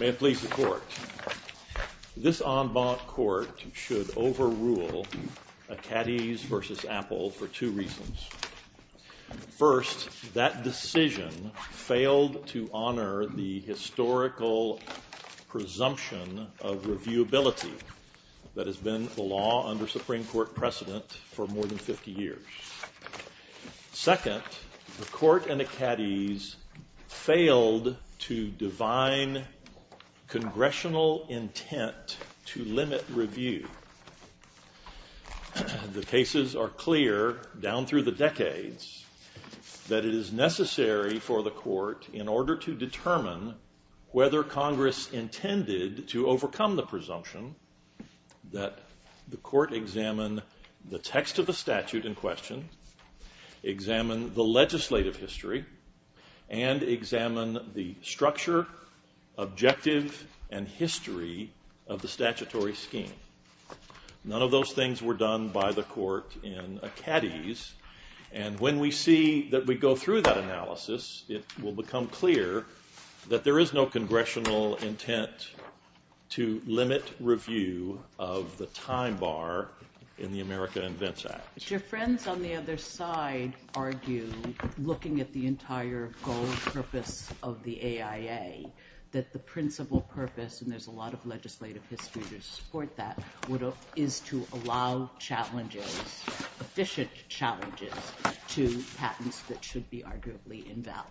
May I please report? This en banc court should overrule Acades v. Apple for two reasons. First, that decision failed to honor the historical presumption of reviewability that has been the law under Supreme Court precedent for more than 50 years. Second, the court in Acades failed to divine congressional intent to limit review. The cases are clear down through the decades that it is necessary for the court in order to determine whether Congress intended to overcome the presumption that the court examine the text of the statute in question, examine the legislative history, and examine the structure, objective, and history of the statutory scheme. None of those things were done by the court in Acades. And when we see that we go through that analysis, it will become clear that there is no congressional intent to limit review of the time bar in the America Invents Act. Your friends on the other side argue, looking at the entire goal and purpose of the AIA, that the principal purpose, and there's a lot of legislative history to support that, is to allow challenges, efficient challenges, to patents that should be arguably invalid.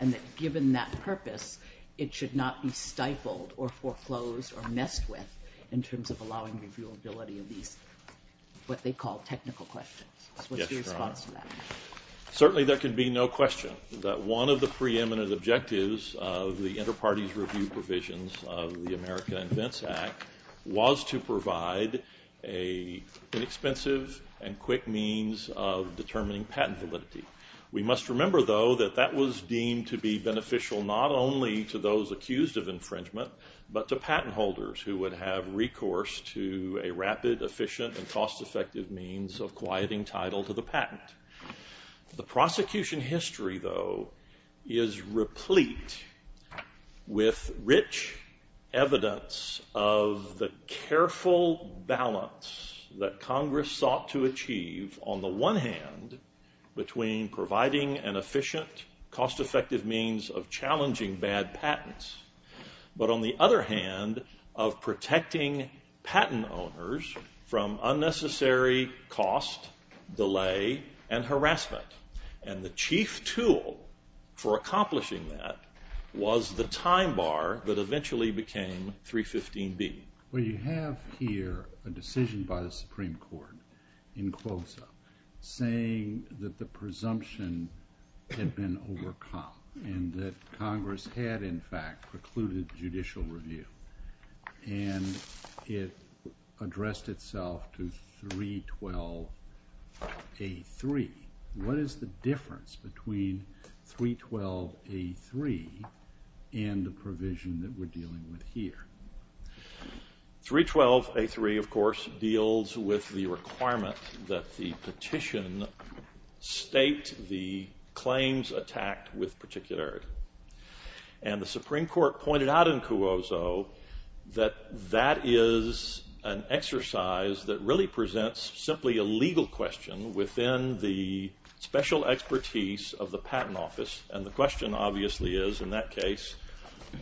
And that given that purpose, it should not be stifled or foreclosed or messed with in terms of allowing reviewability of these, what they call, technical questions. What's your response to that? Certainly there can be no question that one of the preeminent objectives of the inter-parties review provisions of the America Invents Act was to provide an inexpensive and quick means of determining patent validity. We must remember, though, that that was deemed to be beneficial not only to those accused of infringement, but to patent holders who would have recourse to a rapid, efficient, and cost-effective means of quieting title to the patent. The prosecution history, though, is replete with rich evidence of the careful balance that Congress sought to achieve on the one hand between providing an efficient, cost-effective means of challenging bad patents, but on the other hand of protecting patent owners from unnecessary cost, delay, and harassment. And the chief tool for accomplishing that was the time bar that eventually became 315B. We have here a decision by the Supreme Court in CLOSA saying that the presumption had been overcome and that Congress had, in fact, precluded judicial review. And it addressed itself to 312A3. What is the difference between 312A3 and the provision that we're dealing with here? 312A3, of course, deals with the requirement that the petition state the claims attacked with particularity. And the Supreme Court pointed out in CLOSA that that is an exercise that really presents simply a legal question within the special expertise of the patent office. And the question, obviously, is, in that case,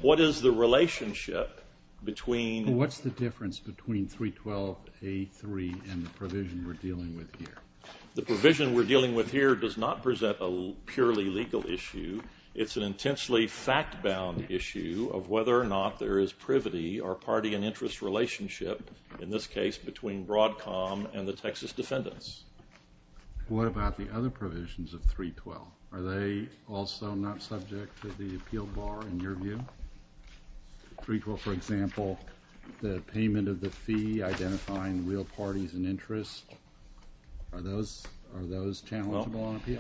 what is the relationship between – What's the difference between 312A3 and the provision we're dealing with here? The provision we're dealing with here does not present a purely legal issue. It's an intensely fact-bound issue of whether or not there is privity or party and interest relationship, in this case, between Broadcom and the Texas defendants. What about the other provisions of 312? Are they also not subject to the appeal bar, in your view? For example, the payment of the fee, identifying real parties and interests. Are those channels that belong to you?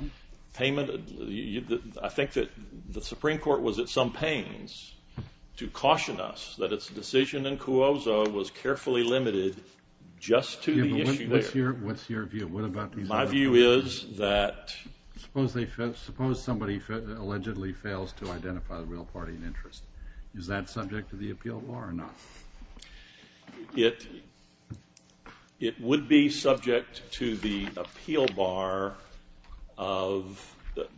Payment – I think that the Supreme Court was at some pains to caution us that its decision in CLOSA was carefully limited just to the issue there. What's your view? My view is that – Suppose somebody allegedly fails to identify the real party and interest. Is that subject to the appeal bar or not? It would be subject to the appeal bar of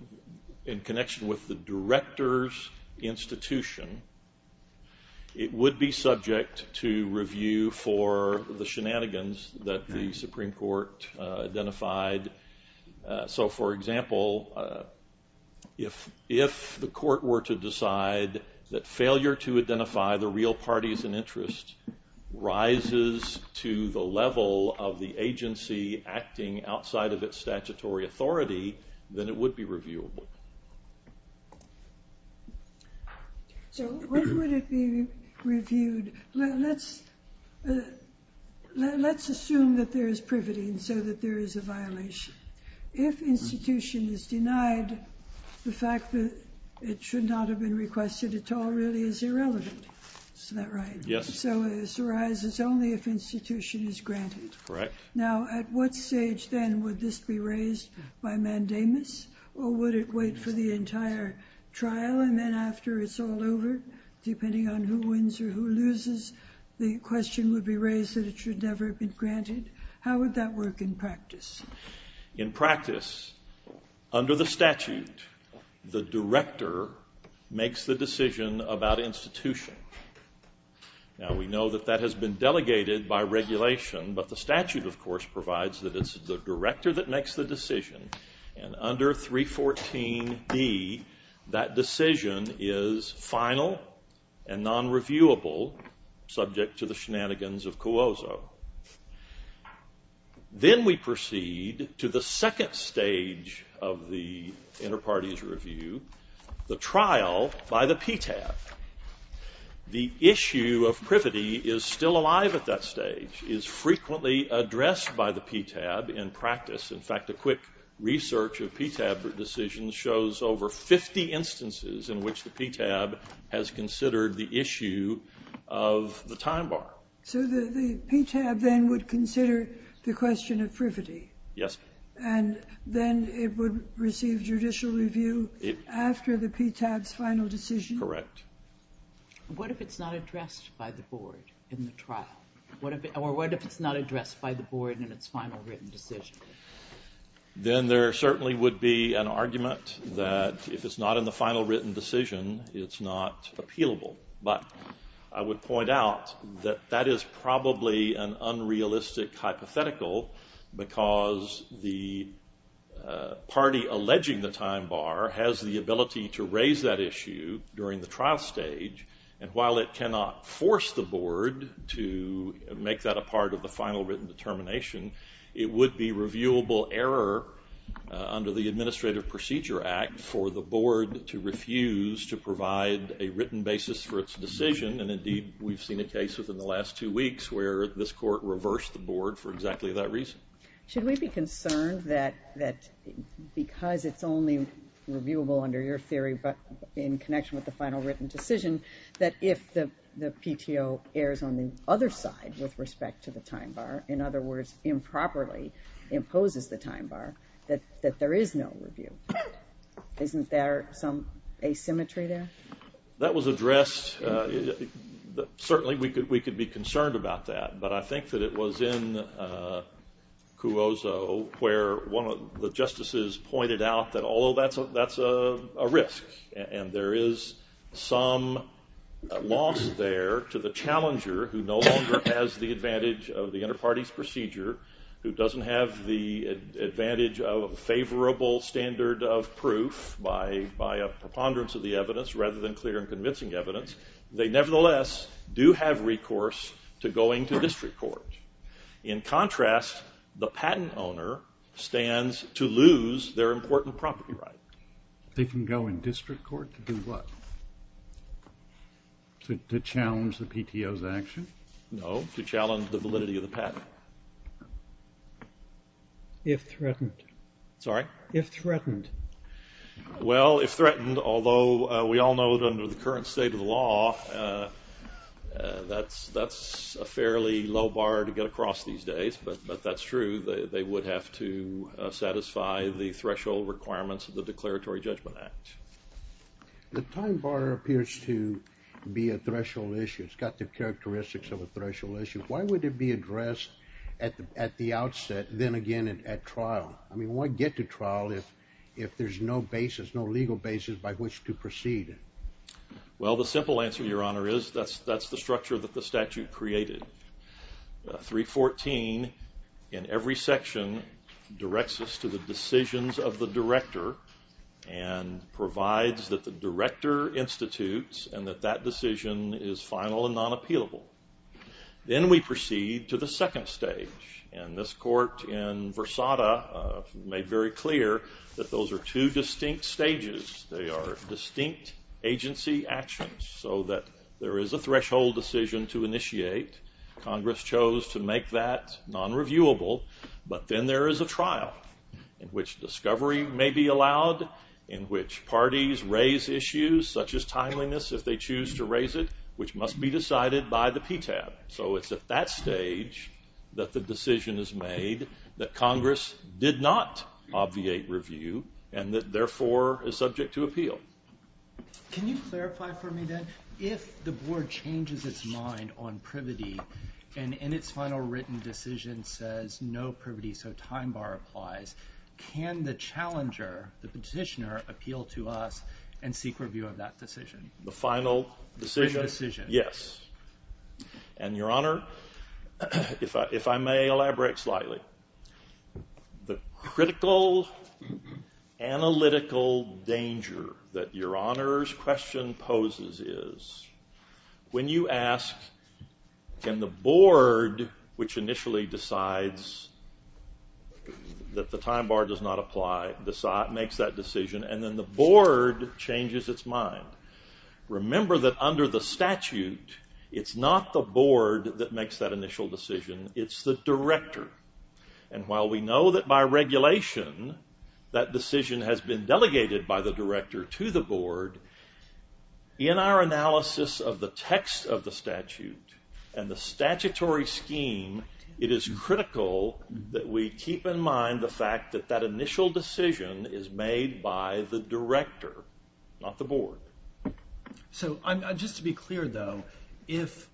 – in connection with the director's institution. It would be subject to review for the shenanigans that the Supreme Court identified. For example, if the court were to decide that failure to identify the real parties and interests rises to the level of the agency acting outside of its statutory authority, then it would be reviewable. What would it be reviewed? Let's assume that there is privity and so that there is a violation. If institution is denied, the fact that it should not have been requested at all really is irrelevant. Isn't that right? Yes. So this arises only if institution is granted. Correct. Now, at what stage then would this be raised by mandamus or would it wait for the entire trial and then after it's all over, depending on who wins or who loses, the question would be raised that it should never have been granted. How would that work in practice? In practice, under the statute, the director makes the decision about institution. Now, we know that that has been delegated by regulation, but the statute, of course, provides that it's the director that makes the decision. And under 314B, that decision is final and non-reviewable subject to the shenanigans of COOSO. Then we proceed to the second stage of the inter-parties review, the trial by the PTAC. The issue of privity is still alive at that stage, is frequently addressed by the PTAC in practice. In fact, a quick research of PTAC decisions shows over 50 instances in which the PTAC has considered the issue of the time bar. So the PTAC then would consider the question of privity? Yes. And then it would receive judicial review after the PTAC's final decision? Correct. What if it's not addressed by the board in the trial? Or what if it's not addressed by the board in its final written decision? Then there certainly would be an argument that if it's not in the final written decision, it's not appealable. But I would point out that that is probably an unrealistic hypothetical because the party alleging the time bar has the ability to raise that issue during the trial stage. And while it cannot force the board to make that a part of the final written determination, it would be reviewable error under the Administrative Procedure Act for the board to refuse to provide a written basis for its decision. And, indeed, we've seen a case within the last two weeks where this court reversed the board for exactly that reason. Should we be concerned that because it's only reviewable under your theory but in connection with the final written decision, that if the PTO errs on the other side with respect to the time bar, in other words, improperly imposes the time bar, that there is no review? Isn't there some asymmetry there? That was addressed. Certainly, we could be concerned about that. But I think that it was in Cuozzo where one of the justices pointed out that although that's a risk and there is some loss there to the challenger who no longer has the advantage of the inter-party procedure, who doesn't have the advantage of a favorable standard of proof by a preponderance of the evidence rather than clear and convincing evidence, they nevertheless do have recourse to going to district court. In contrast, the patent owner stands to lose their important property rights. They can go in district court to do what? To challenge the PTO's action? No, to challenge the validity of the patent. If threatened. Sorry? If threatened. Well, if threatened, although we all know that under the current state of the law, that's a fairly low bar to get across these days. But that's true. They would have to satisfy the threshold requirements of the Declaratory Judgment Act. The time bar appears to be a threshold issue. It's got the characteristics of a threshold issue. Why would it be addressed at the outset, then again at trial? I mean, why get to trial if there's no basis, no legal basis by which to proceed? Well, the simple answer, Your Honor, is that's the structure that the statute created. 314 in every section directs us to the decisions of the director and provides that the director institutes and that that decision is final and non-appealable. Then we proceed to the second stage. And this court in Versada made very clear that those are two distinct stages. They are distinct agency actions so that there is a threshold decision to initiate. Congress chose to make that non-reviewable. But then there is a trial in which discovery may be allowed, in which parties raise issues, such as timeliness, if they choose to raise it, which must be decided by the PTAB. So it's at that stage that the decision is made that Congress did not obviate review and that therefore is subject to appeal. Can you clarify for me, then, if the board changes its mind on privity and in its final written decision says no privity so time bar applies, can the challenger, the petitioner, appeal to us and seek review of that decision? The final decision? Yes. And, Your Honor, if I may elaborate slightly, the critical analytical danger that Your Honor's question poses is when you ask can the board, which initially decides that the time bar does not apply, makes that decision and then the board changes its mind. Remember that under the statute it's not the board that makes that initial decision, it's the director. And while we know that by regulation that decision has been delegated by the director to the board, in our analysis of the text of the statute and the statutory scheme, it is critical that we keep in mind the fact that that initial decision is made by the director, not the board. So just to be clear, though, if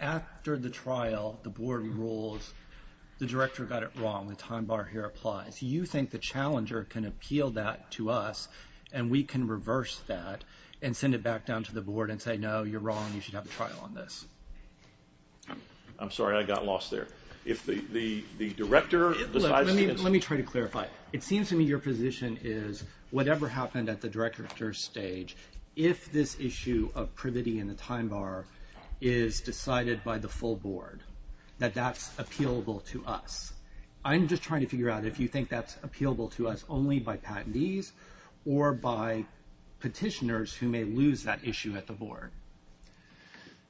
after the trial the board rules the director got it wrong and time bar here applies, do you think the challenger can appeal that to us and we can reverse that and send it back down to the board and say, no, you're wrong, you should have a trial on this? I'm sorry, I got lost there. Let me try to clarify. It seems to me your position is whatever happened at the director stage, if this issue of privity in the time bar is decided by the full board, that that's appealable to us. I'm just trying to figure out if you think that's appealable to us only by patentees or by petitioners who may lose that issue at the board.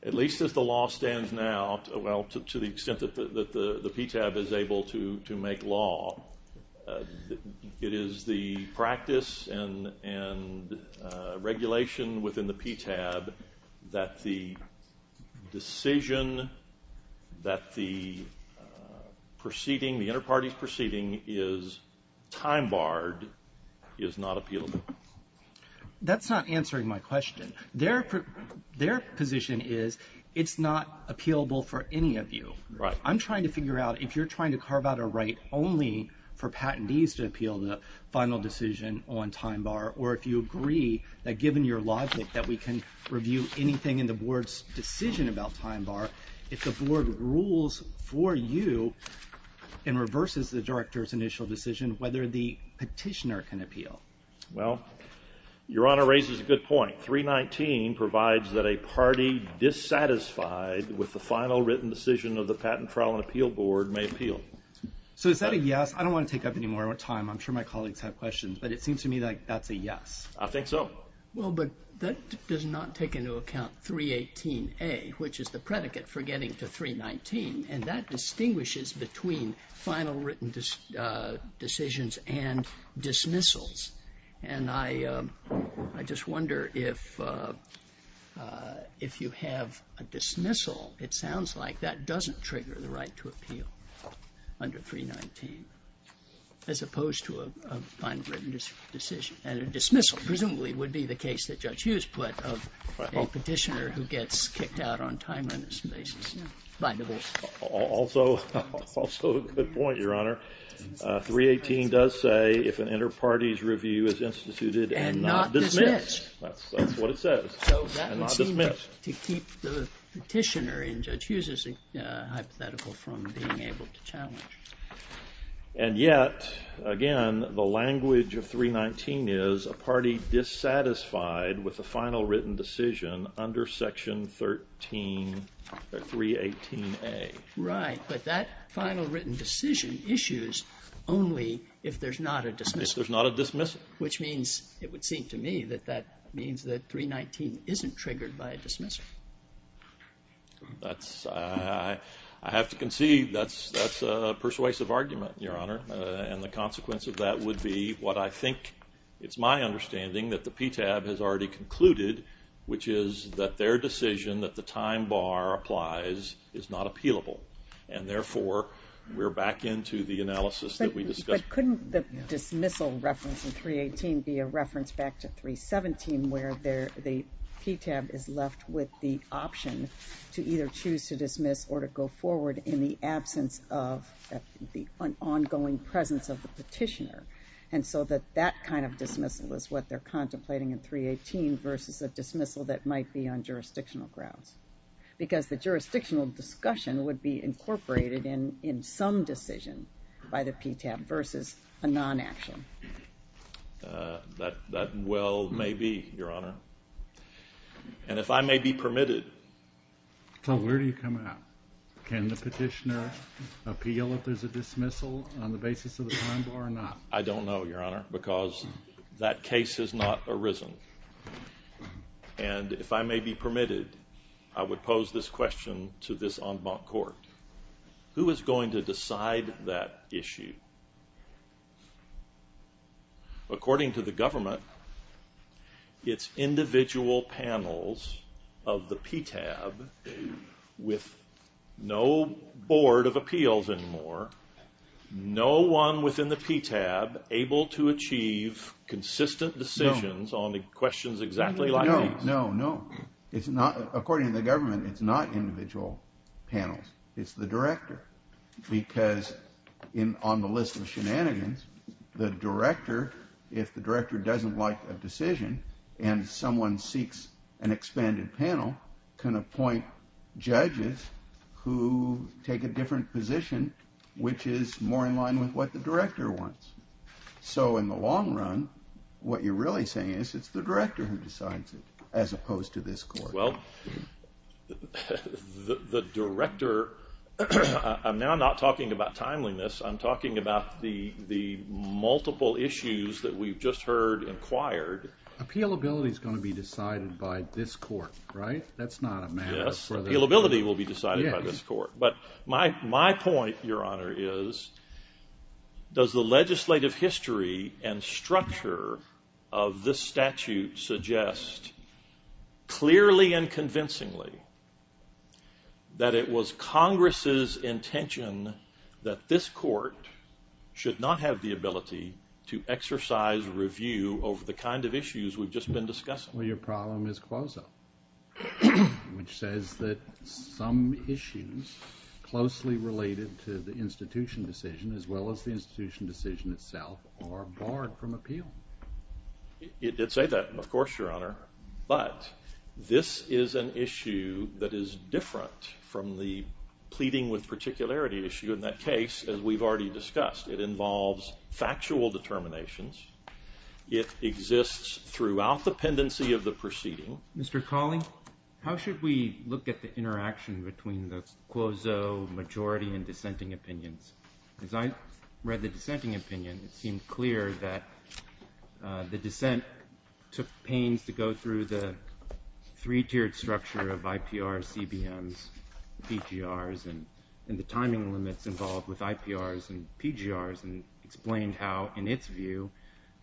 At least as the law stands now, well, to the extent that the PTAB is able to make law, it is the practice and regulation within the PTAB that the decision that the proceeding, the interparty proceeding is time barred is not appealable. That's not answering my question. Their position is it's not appealable for any of you. I'm trying to figure out if you're trying to carve out a right only for patentees to appeal the final decision on time bar or if you agree that given your logic that we can review anything in the board's decision about time bar, if the board rules for you and reverses the director's initial decision, whether the petitioner can appeal. Well, Your Honor raises a good point. 319 provides that a party dissatisfied with the final written decision of the Patent Trial and Appeal Board may appeal. So is that a yes? I don't want to take up any more of our time. I'm sure my colleagues have questions, but it seems to me like that's a yes. I think so. Well, but that does not take into account 318A, which is the predicate for getting to 319, and that distinguishes between final written decisions and dismissals. And I just wonder if you have a dismissal, it sounds like that doesn't trigger the right to appeal under 319, as opposed to a final written decision. And a dismissal presumably would be the case that Judge Hughes put of a petitioner who gets kicked out on time and dismissal. Also a good point, Your Honor. 318 does say if an inter-parties review is instituted and not dismissed. And not dismissed. That's what it says, and it's dismissed. So that would seem to keep the petitioner in Judge Hughes' hypothetical from being able to challenge. And yet, again, the language of 319 is a party dissatisfied with a final written decision under Section 13, 318A. Right, but that final written decision issues only if there's not a dismissal. If there's not a dismissal. Which means it would seem to me that that means that 319 isn't triggered by a dismissal. I have to concede that's a persuasive argument, Your Honor. And the consequence of that would be what I think it's my understanding that the PTAB has already concluded, which is that their decision that the time bar applies is not appealable. And therefore, we're back into the analysis that we discussed. But couldn't the dismissal reference in 318 be a reference back to 317 where the PTAB is left with the option to either choose to dismiss or to go forward in the absence of the ongoing presence of the petitioner. And so that that kind of dismissal is what they're contemplating in 318 versus the dismissal that might be on jurisdictional grounds. Because the jurisdictional discussion would be incorporated in some decision by the PTAB versus a non-action. That well may be, Your Honor. And if I may be permitted. So where do you come out? Can the petitioner appeal if there's a dismissal on the basis of a time bar or not? I don't know, Your Honor, because that case has not arisen. And if I may be permitted, I would pose this question to this en banc court. Who is going to decide that issue? According to the government, it's individual panels of the PTAB with no board of appeals anymore. No one within the PTAB able to achieve consistent decisions on the questions exactly like these. No, no, no. According to the government, it's not individual panels. It's the director because on the list of shenanigans, the director, if the director doesn't like a decision and someone seeks an expanded panel, can appoint judges who take a different position which is more in line with what the director wants. So in the long run, what you're really saying is it's the director who decides it as opposed to this court. Well, the director, I'm now not talking about timeliness. I'm talking about the multiple issues that we've just heard inquired. Appealability is going to be decided by this court, right? That's not a matter for the court. Yes, appealability will be decided by this court. But my point, Your Honor, is does the legislative history and structure of this statute suggest clearly and convincingly that it was Congress' intention that this court should not have the ability to exercise review over the kind of issues we've just been discussing? Which says that some issues closely related to the institution decision as well as the institution decision itself are barred from appeal. It did say that, of course, Your Honor. But this is an issue that is different from the pleading with particularity issue in that case as we've already discussed. It involves factual determinations. It exists throughout the pendency of the proceeding. Mr. Cawley, how should we look at the interaction between the quoso majority and dissenting opinions? As I read the dissenting opinion, it seemed clear that the dissent took pains to go through the three-tiered structure of IPRs, CBMs, PGRs, and the timing limits involved with IPRs and PGRs and explain how, in its view,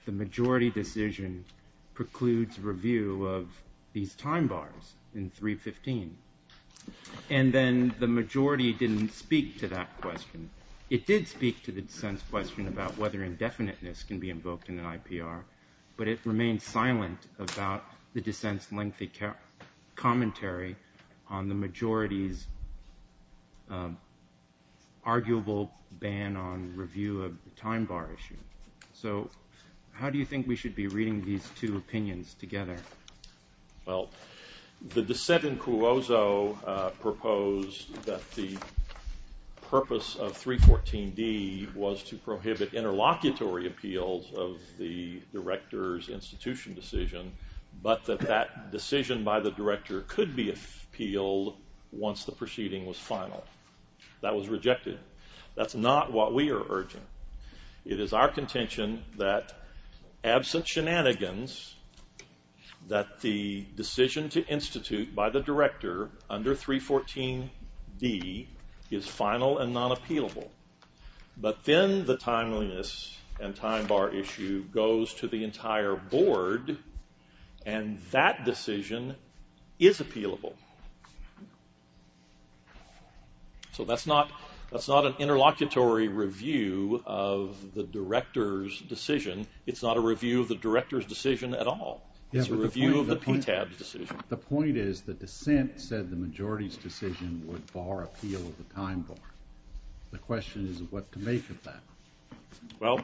the majority decision precludes review of these time bars in 315. And then the majority didn't speak to that question. It did speak to the dissent's question about whether indefiniteness can be invoked in an IPR, but it remained silent about the dissent's lengthy commentary on the majority's arguable ban on review of the time bar issue. So how do you think we should be reading these two opinions together? Well, the dissent in quoso proposed that the purpose of 314B was to prohibit interlocutory appeals of the director's institution decision, but that that decision by the director could be appealed once the proceeding was final. That was rejected. That's not what we are urging. It is our contention that, absent shenanigans, that the decision to institute by the director under 314B is final and not appealable. But then the timeliness and time bar issue goes to the entire board, and that decision is appealable. So that's not an interlocutory review of the director's decision. It's not a review of the director's decision at all. It's a review of the PTAB's decision. The point is the dissent said the majority's decision would bar appeal of the time bar. The question is what to make of that. Well,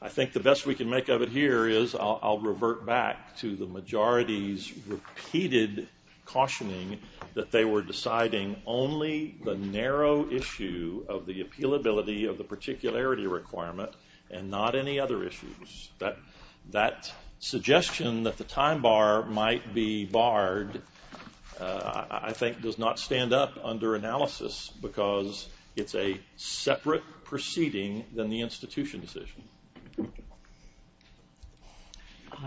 I think the best we can make of it here is I'll revert back to the majority's repeated cautioning that they were deciding only the narrow issue of the appealability of the particularity requirement and not any other issues. That suggestion that the time bar might be barred, I think, does not stand up under analysis because it's a separate proceeding than the institution decision.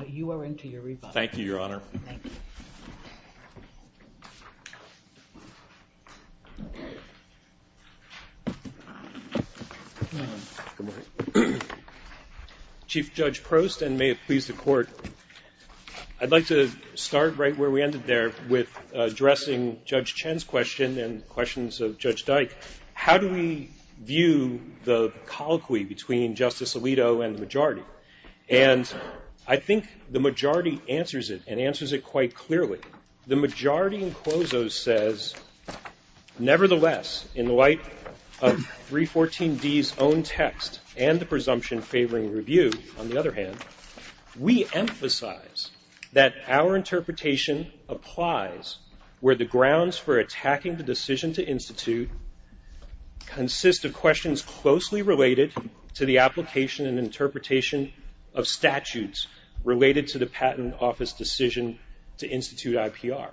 You are into your rebuttal. Thank you, Your Honor. Thank you. Chief Judge Prost, and may it please the court, I'd like to start right where we ended there with addressing Judge Chen's question and questions of Judge Dyke. How do we view the colloquy between Justice Alito and the majority? And I think the majority answers it and answers it quite clearly. The majority in Clozo says, nevertheless, in the light of 314D's own text and the presumption favoring review, on the other hand, we emphasize that our interpretation applies where the grounds for attacking the decision to institute consist of questions closely related to the application and interpretation of statutes related to the patent office decision to institute IPR.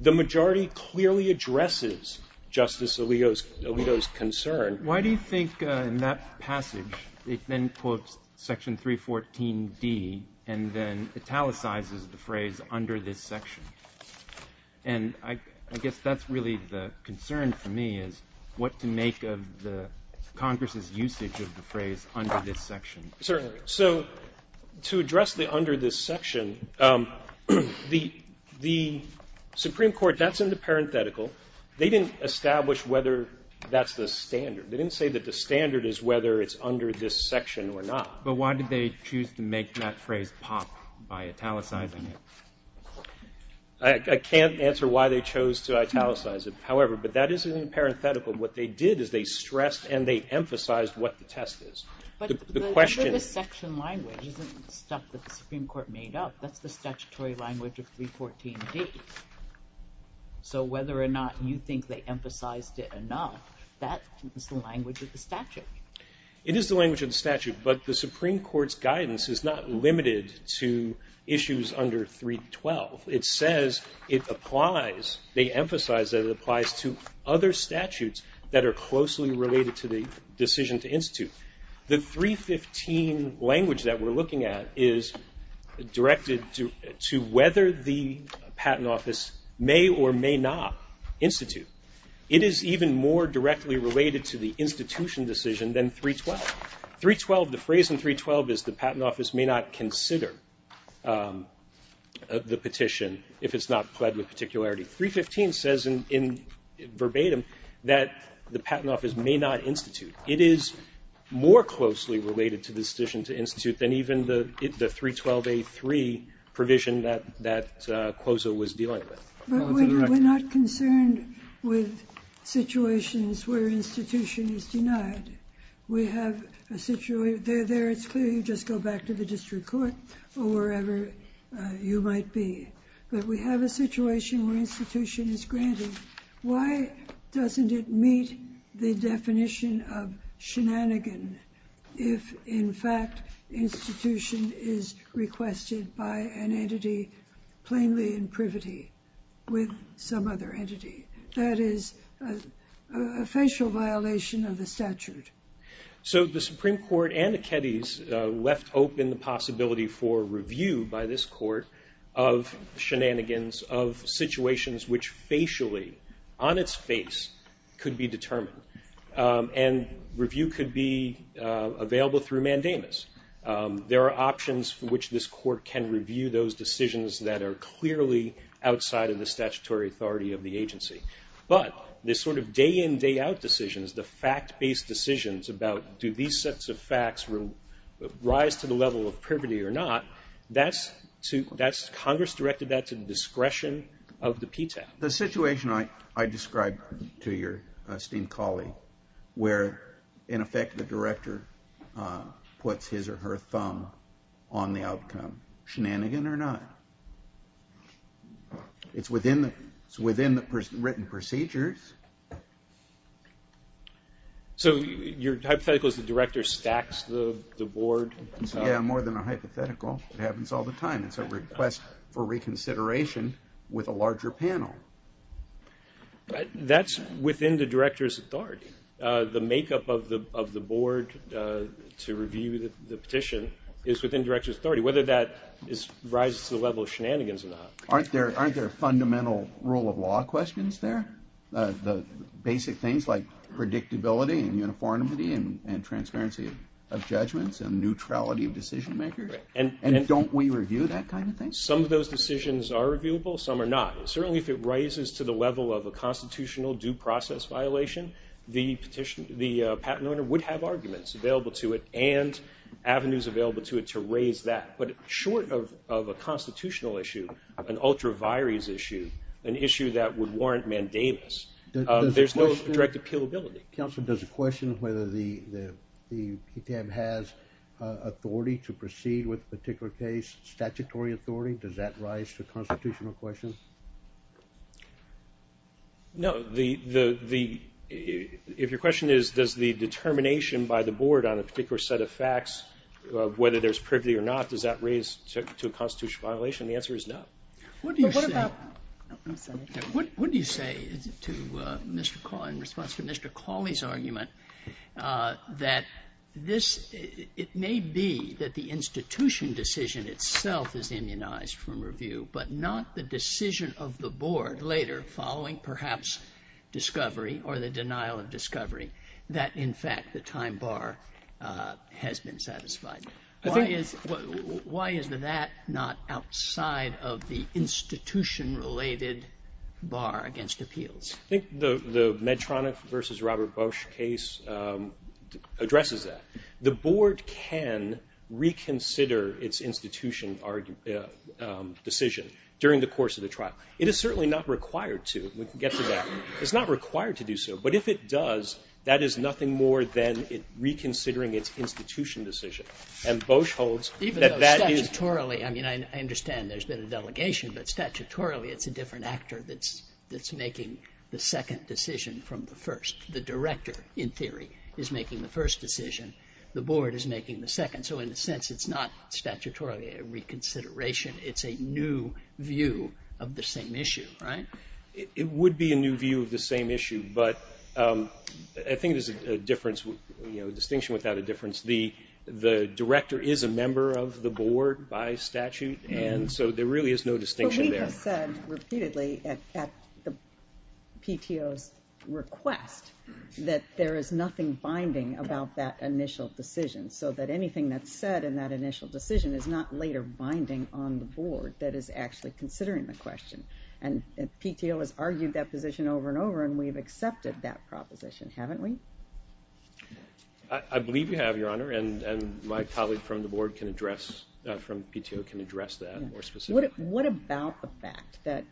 The majority clearly addresses Justice Alito's concern. Why do you think in that passage it then quotes Section 314D and then italicizes the phrase under this section? And I guess that's really the concern for me is what to make of the Congress' usage of the phrase under this section. Certainly. So to address the under this section, the Supreme Court, that's in the parenthetical. They didn't establish whether that's the standard. They didn't say that the standard is whether it's under this section or not. But why did they choose to make that phrase pop by italicizing it? I can't answer why they chose to italicize it. However, but that is in the parenthetical. What they did is they stressed and they emphasized what the test is. But the section language isn't stuff that the Supreme Court made up. That's the statutory language of 314D. So whether or not you think they emphasized it or not, that is the language of the statute. It is the language of the statute, but the Supreme Court's guidance is not limited to issues under 312. It says it applies, they emphasize that it applies to other statutes that are closely related to the decision to institute. The 315 language that we're looking at is directed to whether the patent office may or may not institute. It is even more directly related to the institution decision than 312. 312, the phrase in 312 is the patent office may not consider the petition if it's not pled with particularity. 315 says in verbatim that the patent office may not institute. It is more closely related to the decision to institute than even the 312A3 provision that COSA was dealing with. We're not concerned with situations where an institution is denied. We have a situation, there it's clear, you just go back to the district court or wherever you might be. But we have a situation where institution is granted. Why doesn't it meet the definition of shenanigan if, in fact, institution is requested by an entity plainly in privity with some other entity? That is a facial violation of the statute. So the Supreme Court and the Keddies left open the possibility for review by this court of shenanigans, of situations which facially, on its face, could be determined. And review could be available through mandamus. There are options for which this court can review those decisions that are clearly outside of the statutory authority of the agency. But the sort of day-in, day-out decisions, the fact-based decisions about do these sets of facts rise to the level of privity or not, Congress directed that to the discretion of the PTAC. The situation I described to your esteemed colleague where, in effect, the director puts his or her thumb on the outcome, shenanigan or not. It's within the written procedures. So your hypothetical is the director stacks the board? Yeah, more than a hypothetical. It happens all the time. It's a request for reconsideration with a larger panel. That's within the director's authority. The makeup of the board to review the petition is within director's authority, whether that rises to the level of shenanigans or not. Aren't there fundamental rule of law questions there? The basic things like predictability and uniformity and transparency of judgments and neutrality of decision-makers? And don't we review that kind of thing? Some of those decisions are reviewable, some are not. Certainly, if it rises to the level of a constitutional due process violation, the patent owner would have arguments available to it and avenues available to it to raise that. But short of a constitutional issue, an ultra vires issue, an issue that would warrant mandators, there's no direct appealability. Counsel, does the question whether the PTM has authority to proceed with a particular case, statutory authority, does that rise to constitutional questions? No. If your question is, does the determination by the board on a particular set of facts, whether there's privity or not, does that raise to a constitutional violation? The answer is no. What do you say in response to Mr. Cawley's argument that it may be that the institution decision itself is immunized from review, but not the decision of the board later following perhaps discovery or the denial of discovery that in fact the time bar has been satisfied? Why is that not outside of the institution related bar against appeals? I think the Medtronic versus Robert Bush case addresses that. The board can reconsider its institution decision during the course of the trial. It is certainly not required to get to that. It's not required to do so, but if it does, that is nothing more than reconsidering its institution decision. And Bush holds that that is... Statutorily, I mean, I understand there's been a delegation, but statutorily it's a different actor that's making the second decision from the first. The director, in theory, is making the first decision. The board is making the second. So in a sense, it's not statutorily a reconsideration. It's a new view of the same issue, right? It would be a new view of the same issue, but I think there's a distinction without a difference. The director is a member of the board by statute, and so there really is no distinction there. But we have said repeatedly at the PTO's request that there is nothing binding about that initial decision, so that anything that's said in that initial decision is not later binding on the board that is actually considering the question. And PTO has argued that position over and over, and we've accepted that proposition, haven't we? I believe you have, Your Honor, and my colleague from the board can address that more specifically. What about the fact that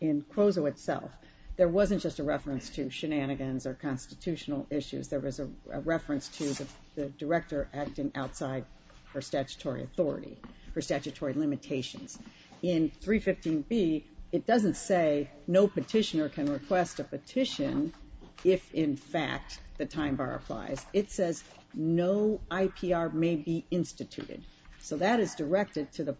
in CROZO itself, there wasn't just a reference to shenanigans or constitutional issues. There was a reference to the director acting outside her statutory authority, her statutory limitations. In 315B, it doesn't say no petitioner can request a petition if, in fact, the time bar applies. It says no IPR may be instituted, so that is directed to the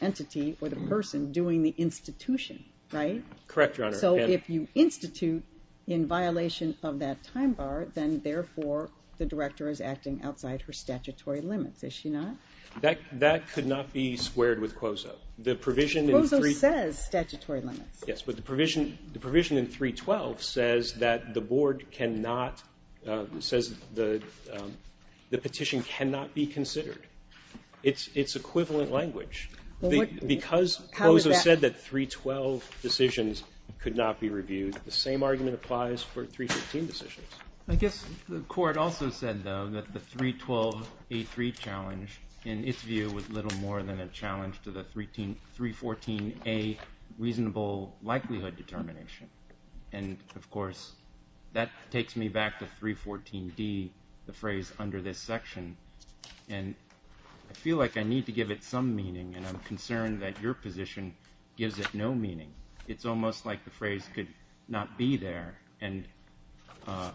entity or the person doing the institution, right? Correct, Your Honor. So if you institute in violation of that time bar, then, therefore, the director is acting outside her statutory limits, is she not? That could not be squared with CROZO. CROZO says statutory limits. Yes, but the provision in 312 says that the petition cannot be considered. It's equivalent language. Because CROZO said that 312 decisions could not be reviewed, the same argument applies for 316 decisions. I guess the court also said, though, that the 312A3 challenge, in its view, was little more than a challenge to the 314A reasonable likelihood determination. And, of course, that takes me back to 314D, the phrase under this section, and I feel like I need to give it some meaning, and I'm concerned that your position gives it no meaning. It's almost like the phrase could not be there, and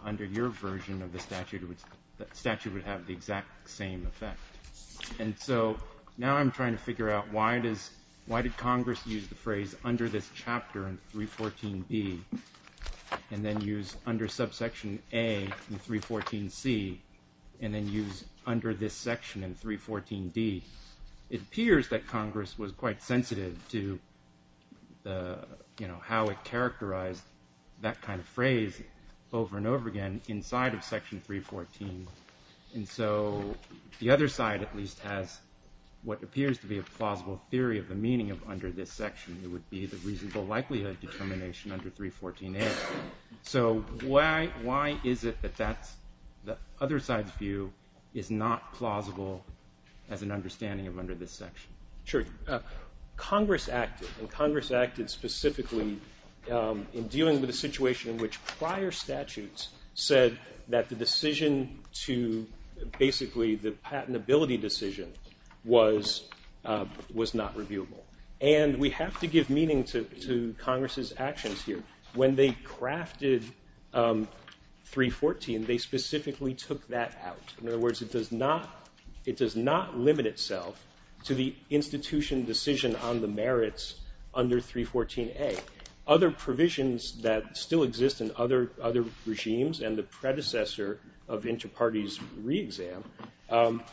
under your version of the statute, it would have the exact same effect. And so now I'm trying to figure out why did Congress use the phrase under this chapter in 314D and then use under subsection A in 314C and then use under this section in 314D. It appears that Congress was quite sensitive to how it characterized that kind of phrase over and over again inside of section 314. And so the other side, at least, has what appears to be a plausible theory of the meaning under this section. It would be the reasonable likelihood determination under 314A. So why is it that the other side's view is not plausible as an understanding of under this section? Sure. Congress acted, and Congress acted specifically in dealing with a situation in which prior statutes said that the decision to, basically, the patentability decision was not reviewable. And we have to give meaning to Congress's actions here. When they crafted 314, they specifically took that out. In other words, it does not limit itself to the institution decision on the merits under 314A. Other provisions that still exist in other regimes and the predecessor of inter-parties re-exam have that.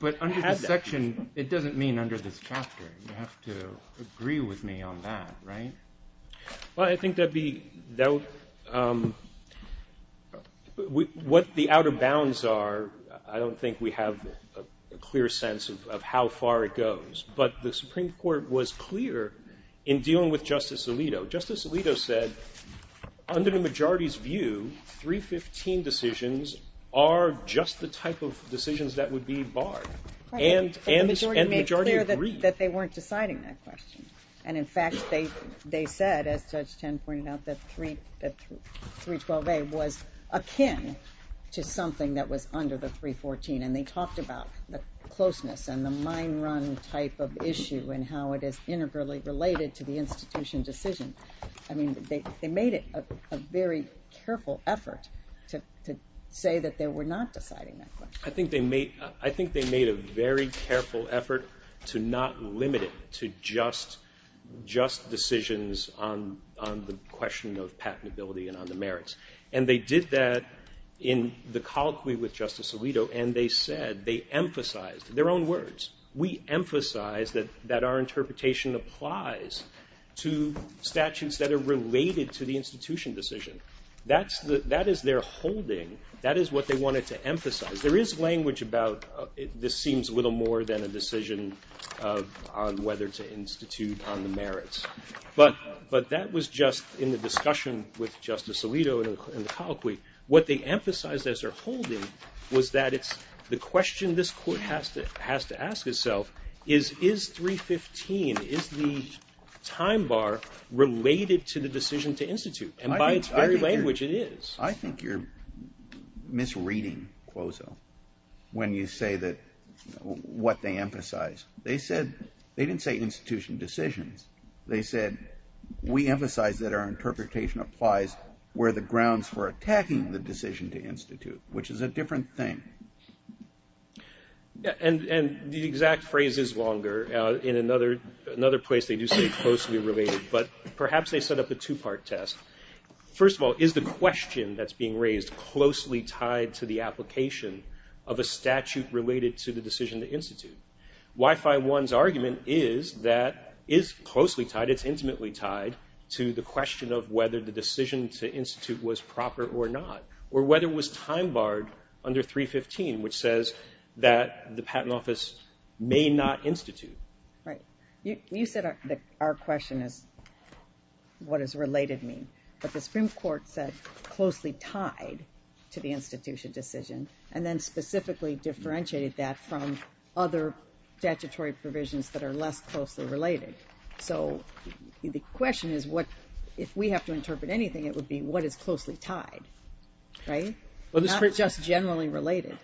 But under this section, it doesn't mean under this chapter. You have to agree with me on that, right? Well, I think what the outer bounds are, I don't think we have a clear sense of how far it goes. But the Supreme Court was clear in dealing with Justice Alito. Justice Alito said, under the majority's view, 315 decisions are just the type of decisions that would be barred. And the majority agreed. But the majority made it clear that they weren't deciding that question. And in fact, they said, as Judge Tan pointed out, that 312A was akin to something that was under the 314. And they talked about the closeness and the mind-run type of issue and how it is integrally related to the institution decision. I mean, they made it a very careful effort to say that they were not deciding that question. I think they made a very careful effort to not limit it to just decisions on the question of patentability and on the merits. And they did that in the colloquy with Justice Alito, and they said they emphasized their own words. We emphasize that our interpretation applies to statutes that are related to the institution decision. That is their holding. That is what they wanted to emphasize. There is language about this seems little more than a decision on whether to institute on the merits. But that was just in the discussion with Justice Alito in the colloquy. What they emphasized as their holding was that the question this Court has to ask itself is, is 315, is the time bar related to the decision to institute? And by its very language, it is. I think you're misreading CLOSO when you say that what they emphasize. They said they didn't say institution decisions. They said we emphasize that our interpretation applies where the grounds for attacking the decision to institute, which is a different thing. And the exact phrase is longer. In another place, they do say closely related, but perhaps they set up a two-part test. First of all, is the question that's being raised closely tied to the application of a statute related to the decision to institute? Y-5-1's argument is that it's closely tied, it's intimately tied to the question of whether the decision to institute was proper or not, or whether it was time barred under 315, which says that the Patent Office may not institute. Right. You said that our question is what does related mean, but the Supreme Court says closely tied to the institution decision, and then specifically differentiated that from other statutory provisions that are less closely related. So the question is what, if we have to interpret anything, it would be what is closely tied, right? Not just generally related.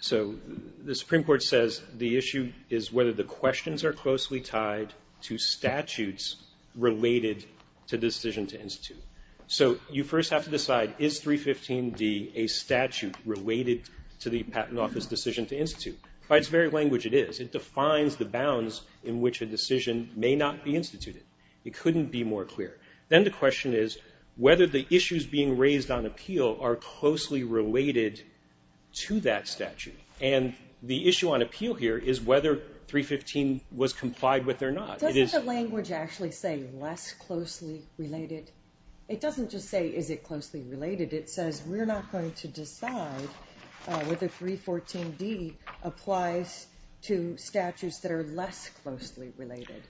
So the Supreme Court says the issue is whether the questions are closely tied to statutes related to decision to institute. So you first have to decide, is 315d a statute related to the Patent Office decision to institute? By its very language, it is. It defines the bounds in which a decision may not be instituted. It couldn't be more clear. Then the question is whether the issues being raised on appeal are closely related to that statute. And the issue on appeal here is whether 315 was complied with or not. Doesn't the language actually say less closely related? It doesn't just say is it closely related. It says we're not going to decide whether 314d applies to statutes that are less closely related.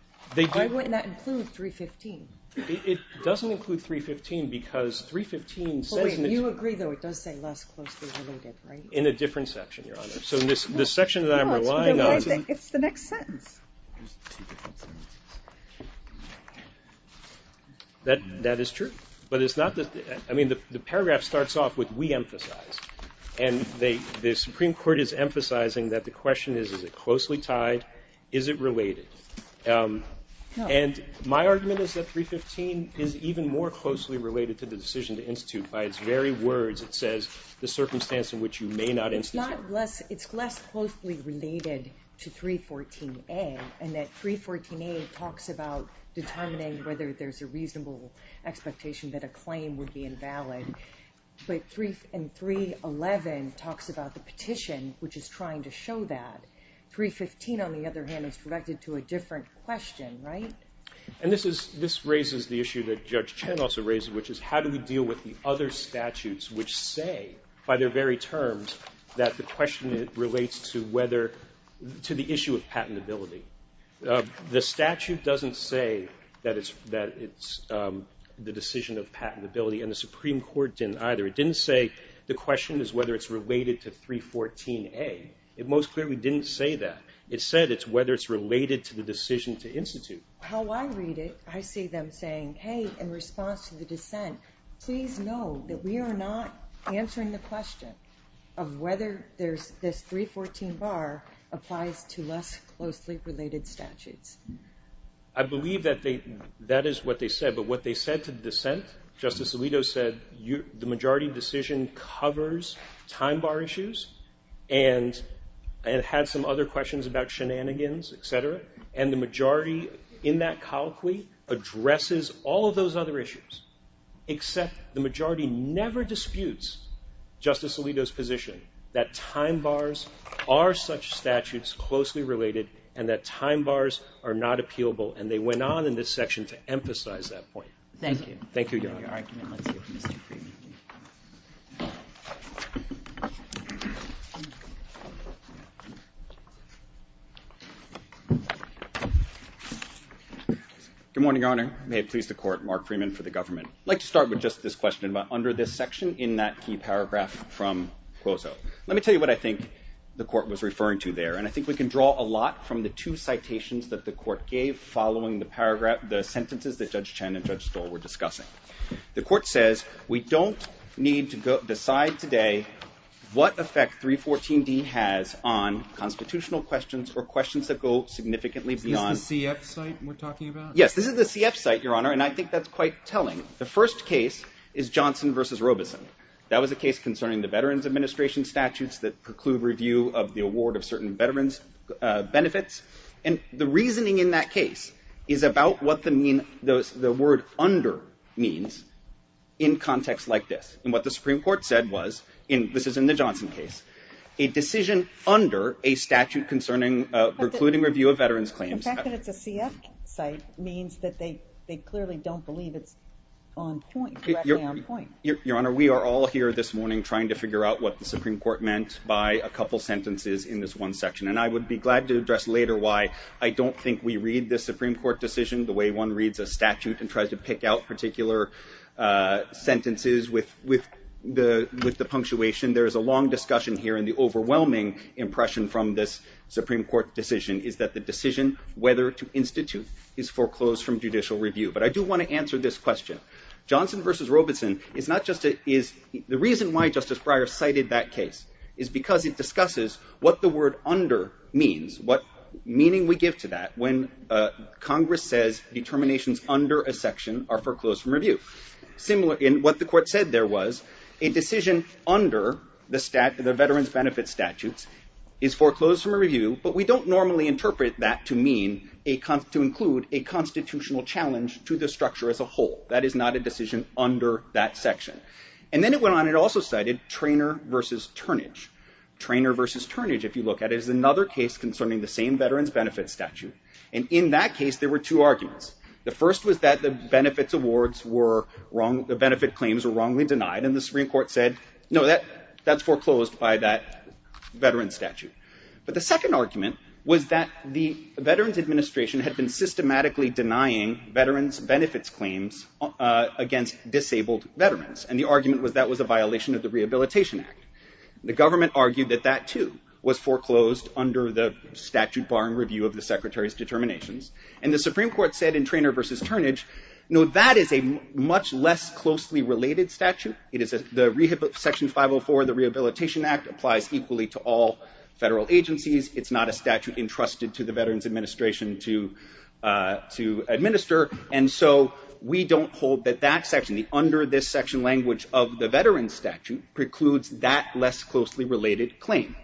Why wouldn't that include 315? It doesn't include 315 because 315 says... You agree though it does say less closely related, right? In a different section, Your Honor. So in this section that I'm relying on... It's the next sentence. That is true. But it's not that... I mean the paragraph starts off with we emphasize. And the Supreme Court is emphasizing that the question is, is it closely tied? Is it related? And my argument is that 315 is even more closely related to the decision to institute. By its very words, it says the circumstance in which you may not institute... It's less closely related to 314a. And that 314a talks about determining whether there's a reasonable expectation that a claim would be invalid. And 311 talks about the petition, which is trying to show that. 315, on the other hand, is related to a different question, right? And this raises the issue that Judge Chen also raised, which is how do we deal with the other statutes which say, by their very terms, that the question relates to the issue of patentability. The statute doesn't say that it's the decision of patentability, and the Supreme Court didn't either. It didn't say the question is whether it's related to 314a. It most clearly didn't say that. It said it's whether it's related to the decision to institute. How I read it, I see them saying, hey, in response to the dissent, please know that we are not answering the question of whether this 314 bar applies to less closely related statutes. I believe that is what they said. But what they said to the dissent, Justice Alito said, the majority decision covers time bar issues and had some other questions about shenanigans, et cetera, and the majority in that colloquy addresses all of those other issues, except the majority never disputes Justice Alito's position that time bars are such statutes closely related and that time bars are not appealable, and they went on in this section to emphasize that point. Thank you. Good morning, Your Honor. May it please the Court, Mark Freeman for the government. I'd like to start with just this question about under this section in that key paragraph from Cuozo. Let me tell you what I think the Court was referring to there, and I think we can draw a lot from the two citations that the Court gave following the paragraph, the sentences that Judge Chen and Judge Stoll were discussing. The Court says we don't need to decide today what effect 314D has on constitutional questions or questions that go significantly beyond. Is this the CF site we're talking about? Yes, this is the CF site, Your Honor, and I think that's quite telling. The first case is Johnson v. Robeson. That was a case concerning the Veterans Administration statutes that preclude review of the award of certain veterans' benefits, and the reasoning in that case is about what the word under means in context like this, and what the Supreme Court said was, and this is in the Johnson case, a decision under a statute concerning precluding review of veterans' claims. The fact that it's a CF site means that they clearly don't believe it's on point, directly on point. Your Honor, we are all here this morning trying to figure out what the Supreme Court meant by a couple sentences in this one section, and I would be glad to address later why I don't think we read this Supreme Court decision the way one reads a statute and tries to pick out particular sentences with the punctuation. There is a long discussion here, and the overwhelming impression from this Supreme Court decision is that the decision whether to institute is foreclosed from judicial review, but I do want to answer this question. Johnson v. Robeson is not just a, is, the reason why Justice Breyer cited that case is because it discusses what the word under means, what meaning we give to that when Congress says determinations under a section are foreclosed from review. And what the Court said there was a decision under the Veterans Benefits Statute is foreclosed from review, but we don't normally interpret that to mean, to include a constitutional challenge to the structure as a whole. That is not a decision under that section. And then it went on and also cited Treynor v. Turnage. Treynor v. Turnage, if you look at it, is another case concerning the same Veterans Benefits Statute, and in that case there were two arguments. The first was that the benefits awards were wrong, the benefit claims were wrongly denied, and the Supreme Court said, no, that's foreclosed by that Veterans Statute. But the second argument was that the Veterans Administration had been systematically denying veterans benefits claims against disabled veterans, and the argument was that was a violation of the Rehabilitation Act. The government argued that that, too, was foreclosed under the statute barring review of the Secretary's determinations. And the Supreme Court said in Treynor v. Turnage, no, that is a much less closely related statute. Section 504 of the Rehabilitation Act applies equally to all federal agencies. It's not a statute entrusted to the Veterans Administration to administer, and so we don't hold that that section, under this section language of the Veterans Statute, precludes that less closely related claim.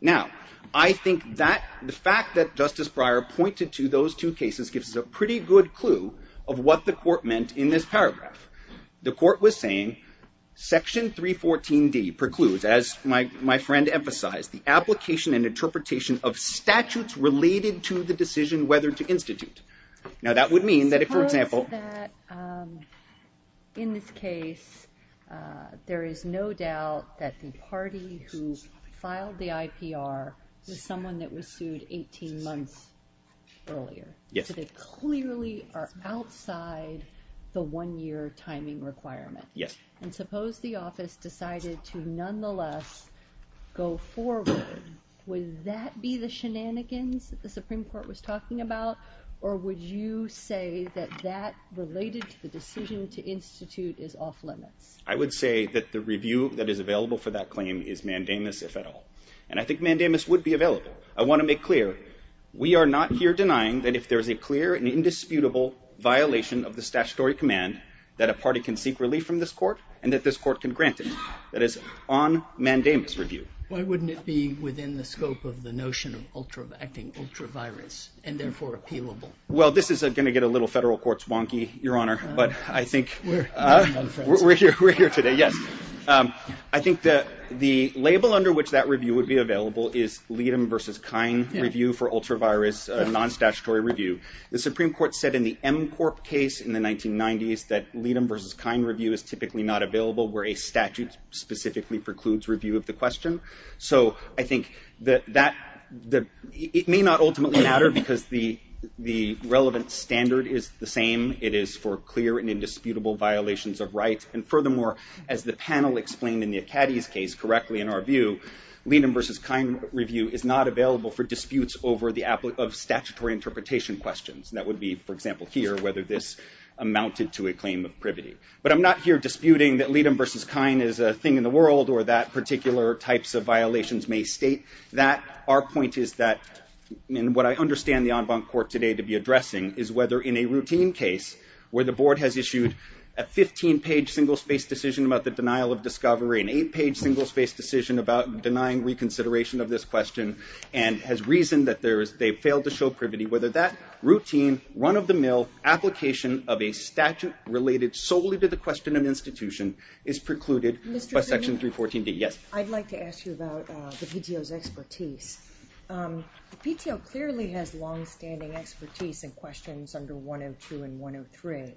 Now, I think the fact that Justice Breyer pointed to those two cases gives us a pretty good clue of what the court meant in this paragraph. The court was saying, Section 314D precludes, as my friend emphasized, the application and interpretation of statutes related to the decision whether to institute. Now, that would mean that if, for example... In this case, there is no doubt that the party who filed the IPR is someone that was sued 18 months earlier. Yes. So they clearly are outside the one-year timing requirement. Yes. And suppose the office decided to nonetheless go forward. Would that be the shenanigans that the Supreme Court was talking about, or would you say that that related to the decision to institute is off-limits? I would say that the review that is available for that claim is mandamus, if at all. And I think mandamus would be available. I want to make clear, we are not here denying that if there's a clear and indisputable violation of the statutory command that a party can seek relief from this court and that this court can grant it. That is on mandamus review. Why wouldn't it be within the scope of the notion of ultra-vaccine, ultra-virus, and therefore appealable? Well, this is going to get a little federal court's wonky, Your Honor, but I think... We're here today. We're here today, yes. I think that the label under which that review would be available is Leadham v. Kine review for ultra-virus, a non-statutory review. The Supreme Court said in the Emcorp case in the 1990s that Leadham v. Kine review is typically not available where a statute specifically precludes review of the question. So I think that it may not ultimately matter because the relevant standard is the same. It is for clear and indisputable violations of rights. And furthermore, as the panel explained in the Acadia case correctly in our view, Leadham v. Kine review is not available for disputes over statutory interpretation questions. That would be, for example, here, whether this amounted to a claim of privity. But I'm not here disputing that Leadham v. Kine is a thing in the world or that particular types of violations may state that. Our point is that, and what I understand the en banc court today to be addressing, is whether in a routine case where the board has issued a 15-page single-space decision about the denial of discovery, an eight-page single-space decision about denying reconsideration of this question, and has reasoned that they failed to show privity, whether that routine run-of-the-mill application of a statute related solely to the question of institution is precluded by Section 314B. I'd like to ask you about the PTO's expertise. The PTO clearly has long-standing expertise in questions under 102 and 103.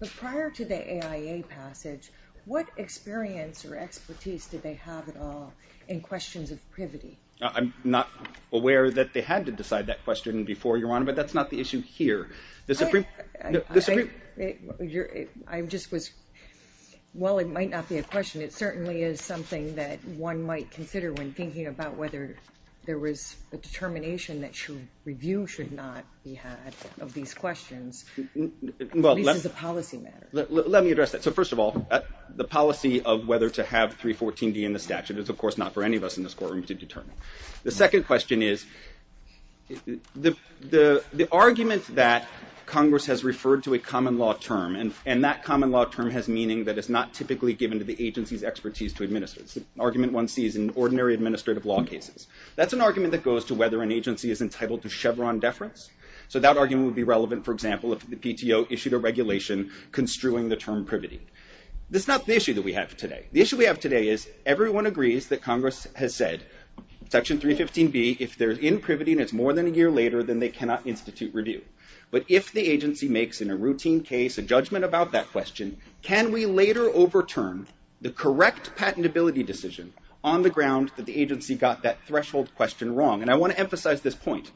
But prior to the AIA passage, what experience or expertise did they have at all in questions of privity? I'm not aware that they had to decide that question before, Your Honor, but that's not the issue here. I just was, while it might not be a question, it certainly is something that one might consider when thinking about whether there was a determination that review should not be had of these questions. At least as a policy matter. Let me address that. So first of all, the policy of whether to have 314B in the statute is, of course, not for any of us in this courtroom to determine. The second question is, the argument that Congress has referred to a common law term, and that common law term has meaning that it's not typically given to the agency's expertise to administer it. It's an argument one sees in ordinary administrative law cases. That's an argument that goes to whether an agency is entitled to Chevron deference. So that argument would be relevant, for example, if the PTO issued a regulation construing the term privity. This is not the issue that we have today. The issue we have today is, everyone agrees that Congress has said, Section 315B, if there's in privity and it's more than a year later, then they cannot institute review. But if the agency makes in a routine case a judgment about that question, can we later overturn the correct patentability decision on the grounds that the agency got that threshold question wrong? And I want to emphasize this point.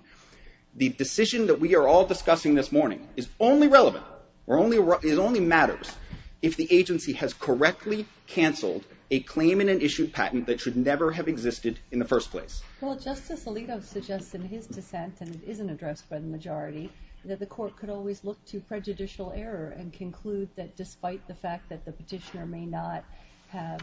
The decision that we are all discussing this morning is only relevant or only matters if the agency has correctly canceled a claim in an issued patent that should never have existed in the first place. Well, Justice Alito suggests in his dissent, and it isn't addressed by the majority, that the court could always look to prejudicial error and conclude that, despite the fact that the petitioner may not have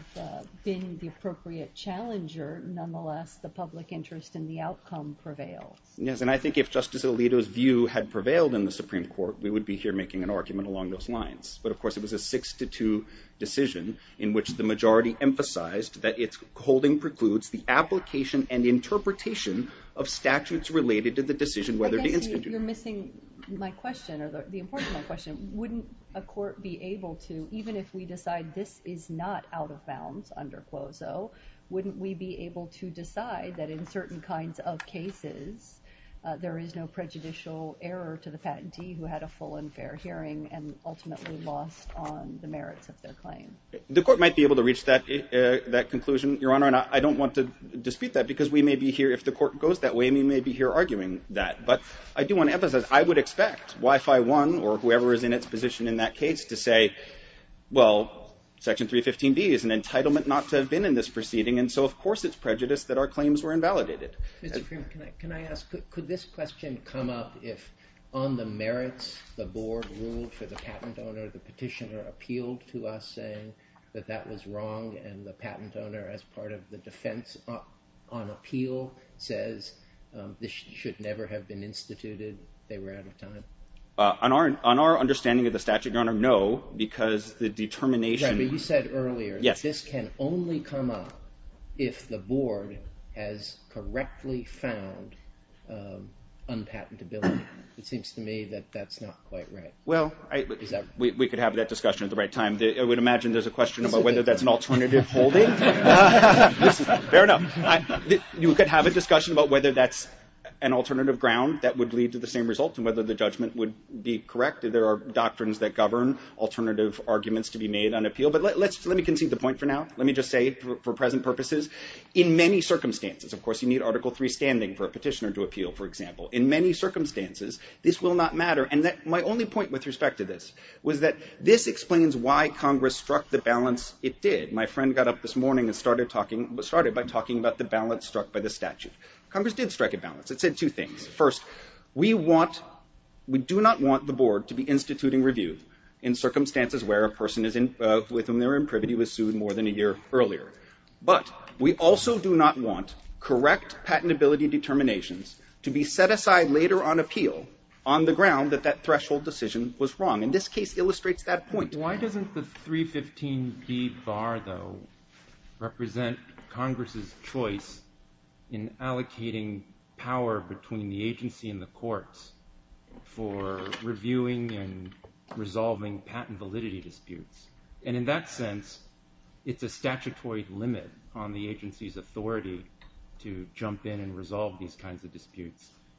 been the appropriate challenger, nonetheless, the public interest in the outcome prevails. Yes, and I think if Justice Alito's view had prevailed in the Supreme Court, we would be here making an argument along those lines. But, of course, it was a 6-2 decision in which the majority emphasized that its holding precludes the application and interpretation of statutes related to the decision whether to institute review. Again, you're missing my question, or the importance of my question. Wouldn't a court be able to, even if we decide this is not out of bounds under CLOSO, wouldn't we be able to decide that, in certain kinds of cases, there is no prejudicial error to the patentee who had a full and fair hearing and ultimately lost on the merits of their claim? The court might be able to reach that conclusion, Your Honor, and I don't want to dispute that because we may be here, if the court goes that way, we may be here arguing that. But I do want to emphasize, I would expect Y-5-1 or whoever is in its position in that case to say, well, Section 315B is an entitlement not to have been in this proceeding, and so, of course, it's prejudiced that our claims were invalidated. Mr. Kramer, can I ask, could this question come up if, on the merits, the board ruled for the patent owner, the petitioner appealed to us saying that that was wrong and the patent owner, as part of the defense on appeal, says this should never have been instituted, they were out of time? On our understanding of the statute, Your Honor, no, because the determination... You said earlier that this can only come up if the board has correctly found unpatentability. It seems to me that that's not quite right. Well, we could have that discussion at the right time. I would imagine there's a question about whether that's an alternative holding. Fair enough. You could have a discussion about whether that's an alternative ground that would lead to the same results and whether the judgment would be correct. There are doctrines that govern alternative arguments to be made on appeal, but let me concede the point for now. Let me just say, for present purposes, in many circumstances, of course, you need Article 3 standing for a petitioner to appeal, for example. In many circumstances, this will not matter, and my only point with respect to this was that this explains why Congress struck the balance it did. My friend got up this morning and started by talking about the balance struck by the statute. Congress did strike a balance. It said two things. First, we do not want the board to be instituting review in circumstances where a person with whom they're in privity was sued more than a year earlier, but we also do not want correct patentability determinations to be set aside later on appeal on the ground that that threshold decision was wrong, and this case illustrates that point. Why doesn't the 315B bar, though, represent Congress's choice in allocating power between the agency and the courts for reviewing and resolving patent validity disputes? And in that sense, it's a statutory limit on the agency's authority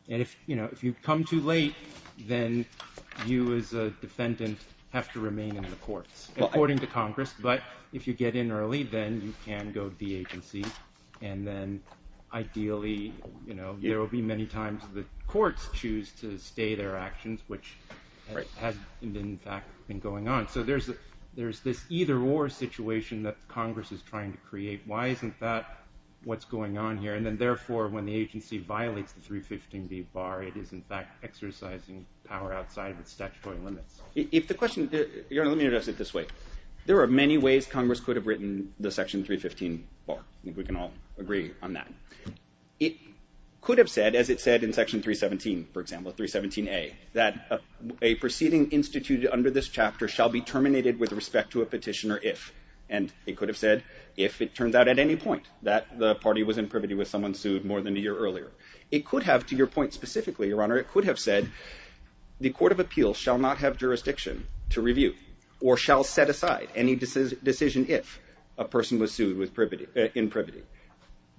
If you come too late, then you as a defendant have to remain in the courts, according to Congress, but if you get in early, then you can go to the agency, and then ideally there will be many times the courts choose to stay their actions, which has in fact been going on. So there's this either-or situation that Congress is trying to create. Why isn't that what's going on here? And then therefore, when the agency violates the 315B bar, it is in fact exercising power outside the statutory limits. Let me address it this way. There are many ways Congress could have written the section 315 bar. We can all agree on that. It could have said, as it said in section 317, for example, 317A, that a proceeding instituted under this chapter shall be terminated with respect to a petitioner if, and it could have said if it turned out at any point that the party was in privity with someone sued more than a year earlier. It could have, to your point specifically, Your Honor, it could have said the Court of Appeals shall not have jurisdiction to review or shall set aside any decision if a person was sued in privity.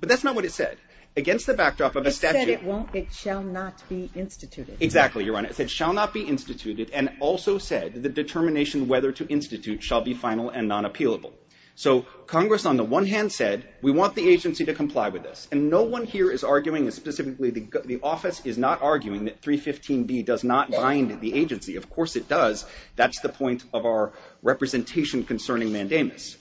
But that's not what it said. Against the backdrop of a statute... It said it won't, it shall not be instituted. Exactly, Your Honor. It said shall not be instituted and also said the determination whether to institute shall be final and non-appealable. So Congress, on the one hand, said we want the agency to comply with this, and no one here is arguing specifically the office is not arguing that 315B does not bind the agency. Of course it does. That's the point of our representation concerning mandamus.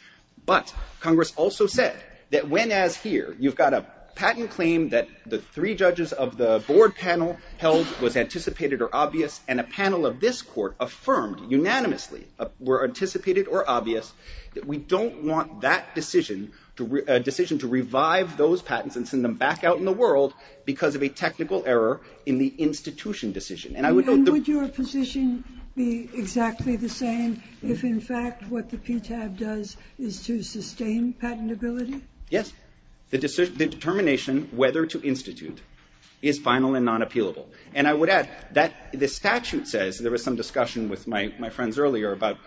But Congress also said that when, as here, you've got a patent claim that the three judges of the board panel held was anticipated or obvious and a panel of this court affirmed unanimously were anticipated or obvious, that we don't want that decision to revive those patents and send them back out in the world because of a technical error in the institution decision. And would your position be exactly the same if, in fact, what the PTAB does is to sustain patentability? Yes. The determination whether to institute is final and non-appealable. And I would add that the statute says, and there was some discussion with my friends earlier about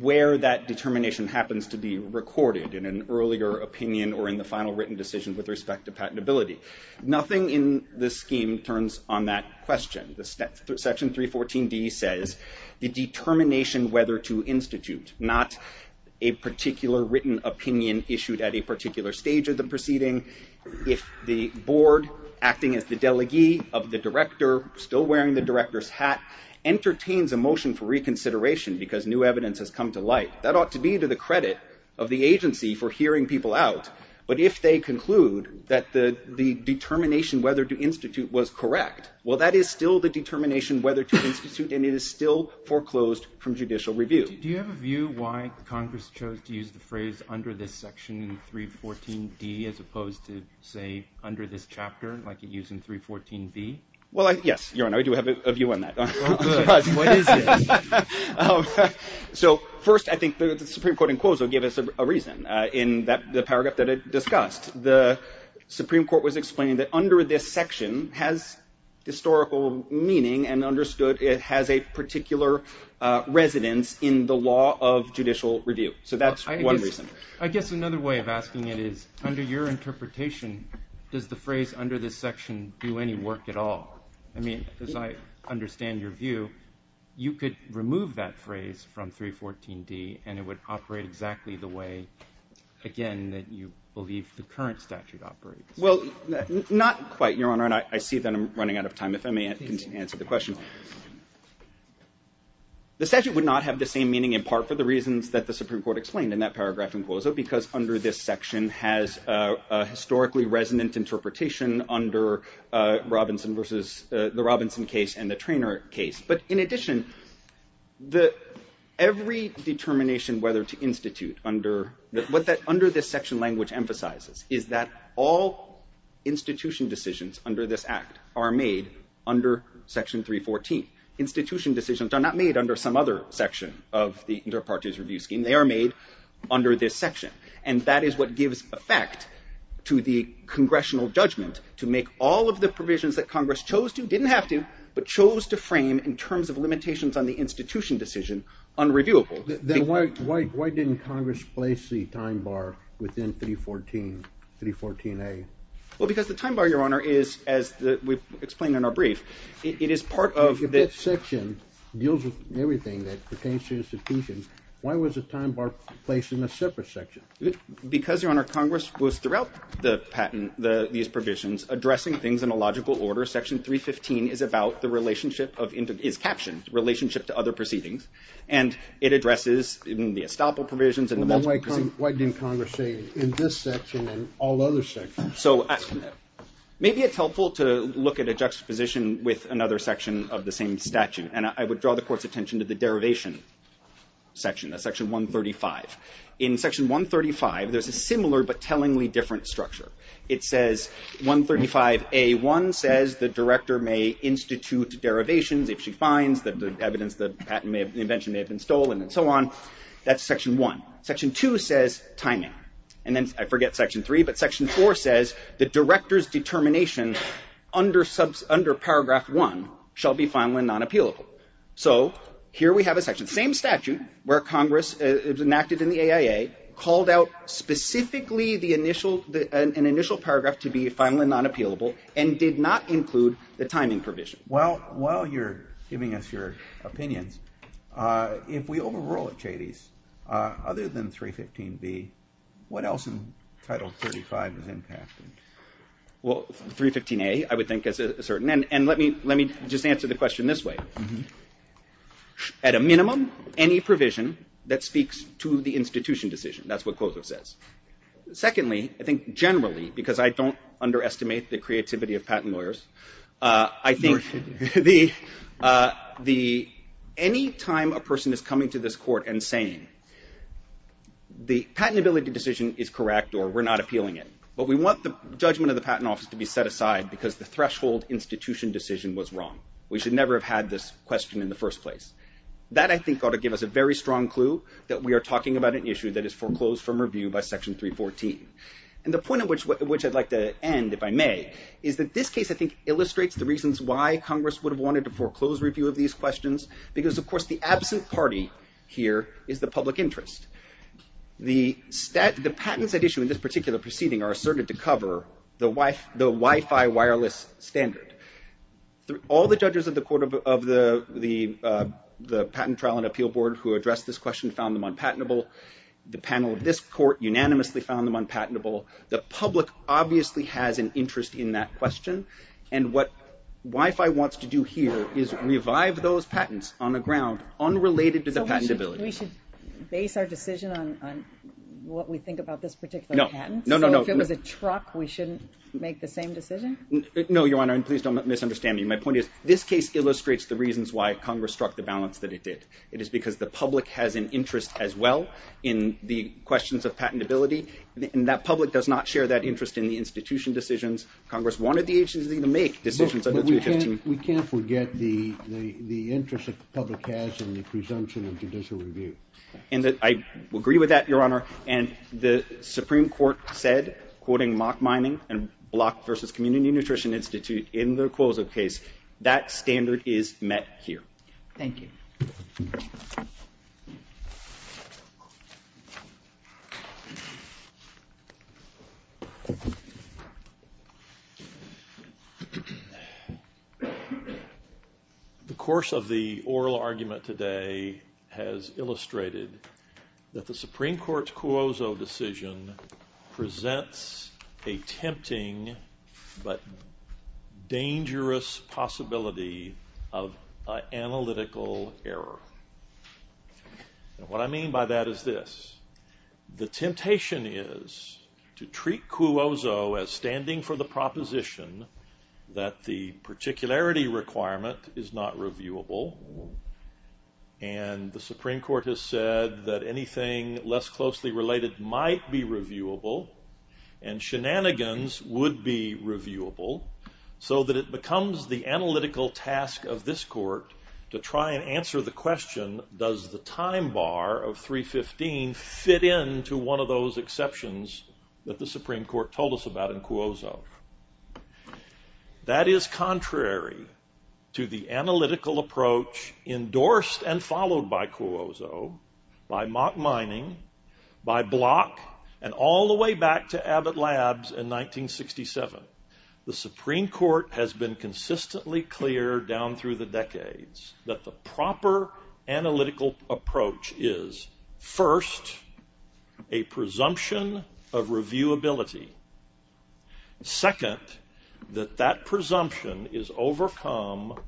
where that determination happens to be recorded, in an earlier opinion or in the final written decision with respect to patentability. Nothing in the scheme turns on that question. Section 314B says the determination whether to institute, not a particular written opinion issued at a particular stage of the proceeding. If the board, acting as the delegee of the director, still wearing the director's hat, entertains a motion for reconsideration because new evidence has come to light, that ought to be to the credit of the agency for hearing people out. But if they conclude that the determination whether to institute was correct, well, that is still the determination whether to institute, and it is still foreclosed from judicial review. Do you have a view why Congress chose to use the phrase under this section in 314B as opposed to, say, under this chapter, like it used in 314B? Well, yes, Your Honor, I do have a view on that. Good. What is it? So, first, I think the Supreme Court, in quotes, will give us a reason. In the paragraph that I discussed, the Supreme Court was explaining that under this section has historical meaning and understood it has a particular residence in the law of judicial review. So that's one reason. I guess another way of asking it is, under your interpretation, does the phrase under this section do any work at all? I mean, as I understand your view, you could remove that phrase from 314D and it would operate exactly the way, again, that you believe the current statute operates. Well, not quite, Your Honor, and I see that I'm running out of time. If I may answer the question. The statute would not have the same meaning, in part, for the reasons that the Supreme Court explained in that paragraph in close-up, because under this section has a historically resonant interpretation under the Robinson case and the Treanor case. But in addition, every determination whether to institute under this section language emphasizes is that all institution decisions under this Act are made under Section 314. Institution decisions are not made under some other section of the Interparties Review Scheme. They are made under this section. And that is what gives effect to the congressional judgment to make all of the provisions that Congress chose to, didn't have to, but chose to frame in terms of limitations on the institution decision unreviewable. Then why didn't Congress place the time bar within 314A? Well, because the time bar, Your Honor, is, as we've explained in our brief, it is part of the... If this section deals with everything that pertains to institutions, why was the time bar placed in a separate section? Because, Your Honor, Congress was, throughout the patent, these provisions, addressing things in a logical order. Section 315 is about the relationship of... It's captioned, relationship to other proceedings. And it addresses the estoppel provisions... Well, then why didn't Congress say in this section and all other sections? So, maybe it's helpful to look at a juxtaposition with another section of the same statute. And I would draw the Court's attention to the derivation section, Section 135. In Section 135, there's a similar but tellingly different structure. It says 135A1 says the director may institute derivations if she finds the evidence that the patent invention may have been stolen and so on. That's Section 1. Section 2 says time-out. And then, I forget Section 3, but Section 4 says the director's determination under Paragraph 1 shall be found when non-appealable. So, here we have a section. The same statute, where Congress is enacted in the AIA, called out specifically an initial paragraph to be finally non-appealable and did not include the timing provision. Well, while you're giving us your opinion, if we overrule it, Katie, other than 315B, what else in Title 35 is impacted? Well, 315A, I would think, is a certain... And let me just answer the question this way. At a minimum, any provision that speaks to the institution decision. That's what COSO says. Secondly, I think generally, because I don't underestimate the creativity of patent lawyers, I think any time a person is coming to this court and saying, the patentability decision is correct or we're not appealing it, but we want the judgment of the patent office to be set aside because the threshold institution decision was wrong. We should never have had this question in the first place. That, I think, ought to give us a very strong clue that we are talking about an issue that is foreclosed from review by Section 314. And the point at which I'd like to end, if I may, is that this case, I think, illustrates the reasons why Congress would have wanted to foreclose review of these questions because, of course, the absent party here is the public interest. The patents at issue in this particular proceeding are asserted to cover the Wi-Fi wireless standard. All the judges of the Court of the Patent Trial and Appeal Board who addressed this question found them unpatentable. The panel of this court unanimously found them unpatentable. The public obviously has an interest in that question, and what Wi-Fi wants to do here is revive those patents on the ground unrelated to the patentability. We should base our decision on what we think about this particular patent? No, no, no. Or if it was a truck, we shouldn't make the same decision? No, Your Honor, and please don't misunderstand me. My point is, this case illustrates the reasons why Congress struck the balance that it did. It is because the public has an interest as well in the questions of patentability, and that public does not share that interest in the institution decisions. Congress wanted the agency to make decisions under 215. We can't forget the interest the public has in the presumption of judicial review. I agree with that, Your Honor, and the Supreme Court said, quoting Mock Mining and Block v. Community Nutrition Institute in the Cuozzo case, that standard is met here. Thank you. The course of the oral argument today has illustrated that the Supreme Court's Cuozzo decision presents a tempting but dangerous possibility of analytical error. What I mean by that is this. The temptation is to treat Cuozzo as standing for the proposition that the particularity requirement is not reviewable, and the Supreme Court has said that anything less closely related might be reviewable, and shenanigans would be reviewable, so that it becomes the analytical task of this court to try and answer the question, does the time bar of 315 fit into one of those exceptions that the Supreme Court told us about in Cuozzo? That is contrary to the analytical approach endorsed and followed by Cuozzo, by Mock Mining, by Block, and all the way back to Abbott Labs in 1967. The Supreme Court has been consistently clear down through the decades that the proper analytical approach is, first, a presumption of reviewability. Second, that that presumption is overcome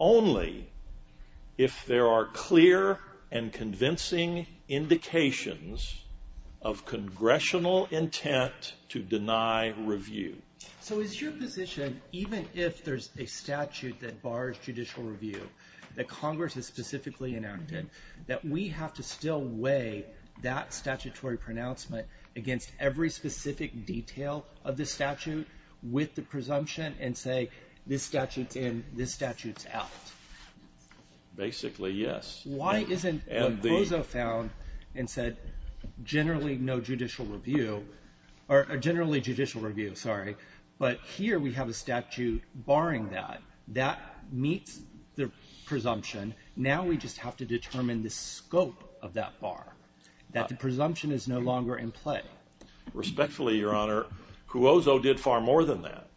only if there are clear and convincing indications of congressional intent to deny review. So is your position, even if there's a statute that bars judicial review, that Congress has specifically enacted, that we have to still weigh that statutory pronouncement against every specific detail of the statute with the presumption and say, this statute's in, this statute's out? Basically, yes. Why isn't Cuozzo found and said, generally no judicial review, or generally judicial review, sorry, but here we have a statute barring that. That meets the presumption. Now we just have to determine the scope of that bar, that the presumption is no longer in play. Respectfully, Your Honor, Cuozzo did far more than that.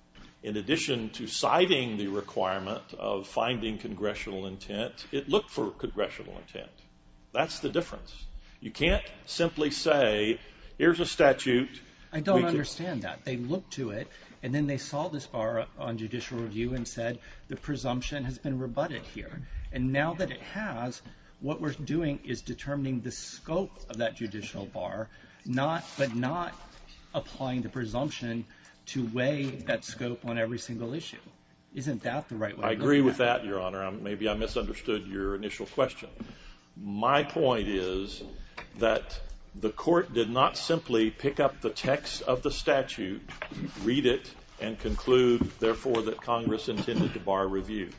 In addition to citing the requirement of finding congressional intent, it looked for congressional intent. That's the difference. You can't simply say, here's a statute. I don't understand that. They looked to it, and then they saw this bar on judicial review and said, the presumption has been rebutted here. And now that it has, what we're doing is determining the scope of that judicial bar, but not applying the presumption to weigh that scope on every single issue. Isn't that the right way to look at it? I agree with that, Your Honor. Maybe I misunderstood your initial question. My point is that the court did not simply pick up the text of the statute, read it, and conclude, therefore, that Congress intended to bar review.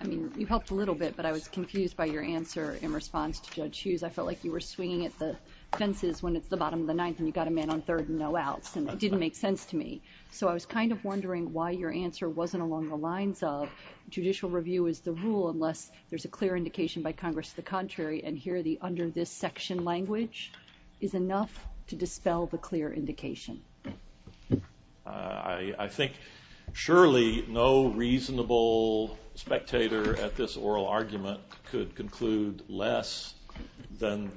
I mean, you helped a little bit, but I was confused by your answer in response to Judge Hughes. I felt like you were swinging at the fences when it's the bottom of the ninth and you've got a man on third and no outs. And it didn't make sense to me. So I was kind of wondering why your answer wasn't along the lines of judicial review is the rule unless there's a clear indication by Congress to the contrary, and here the under this section language is enough to dispel the clear indication. I think surely no reasonable spectator at this oral argument could conclude less than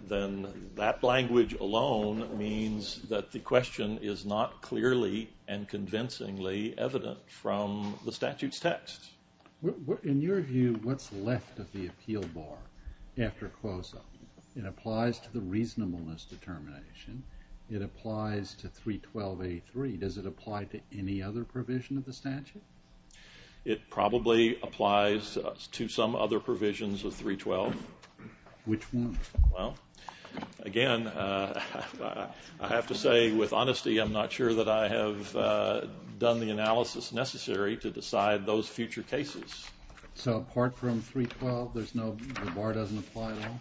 that language alone means that the question is not clearly and convincingly evident from the statute's text. In your view, what's left of the appeal bar after close-up? It applies to the reasonableness determination. It applies to 312A3. Does it apply to any other provision of the statute? It probably applies to some other provisions of 312. Which ones? Well, again, I have to say with honesty, I'm not sure that I have done the analysis necessary to decide those future cases. So apart from 312, the bar doesn't apply at all?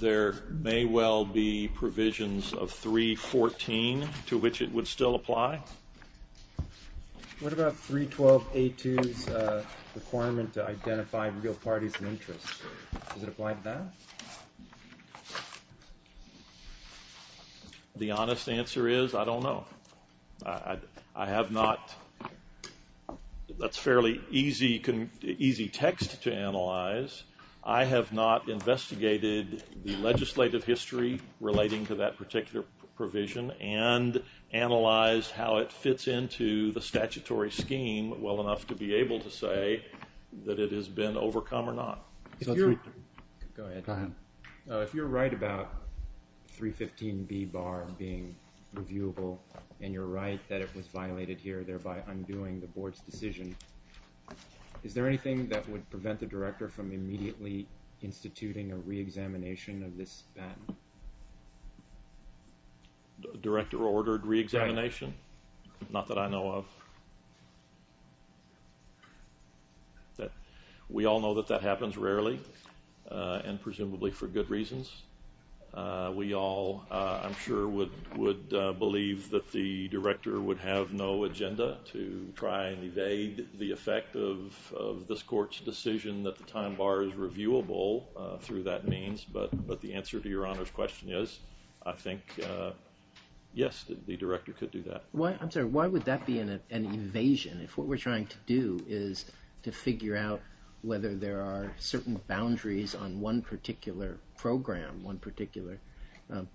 There may well be provisions of 314 to which it would still apply. What about 312A2's requirement to identify real party interests? Does it apply to that? The honest answer is I don't know. I have not. That's fairly easy text to analyze. I have not investigated the legislative history relating to that particular provision and analyzed how it fits into the statutory scheme well enough to be able to say that it has been overcome or not. Go ahead. If you're right about 315B bar being reviewable and you're right that it was reviewable, does that mean that it would be reviewable by undoing the board's decision? Is there anything that would prevent the director from immediately instituting a re-examination of this? Director ordered re-examination? Not that I know of. We all know that that happens rarely and presumably for good reasons. We all, I'm sure, would believe that the director would have no agenda to try and evade the effect of this court's decision that the time bar is reviewable through that means. But the answer to your honest question is I think, yes, the director could do that. I'm sorry. Why would that be an invasion if what we're trying to do is to figure out whether there are certain boundaries on one particular program, one particular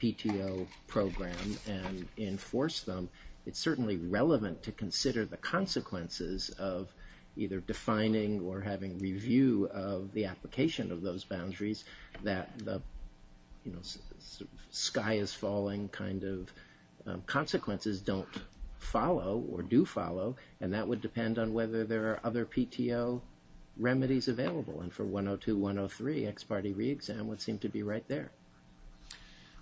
PTO program and enforce them? It's certainly relevant to consider the consequences of either defining or having review of the application of those boundaries that the sky is falling kind of consequences don't follow or do follow. And that would depend on whether there are other PTO remedies available. And for 102, 103 ex parte re-exam would seem to be right there.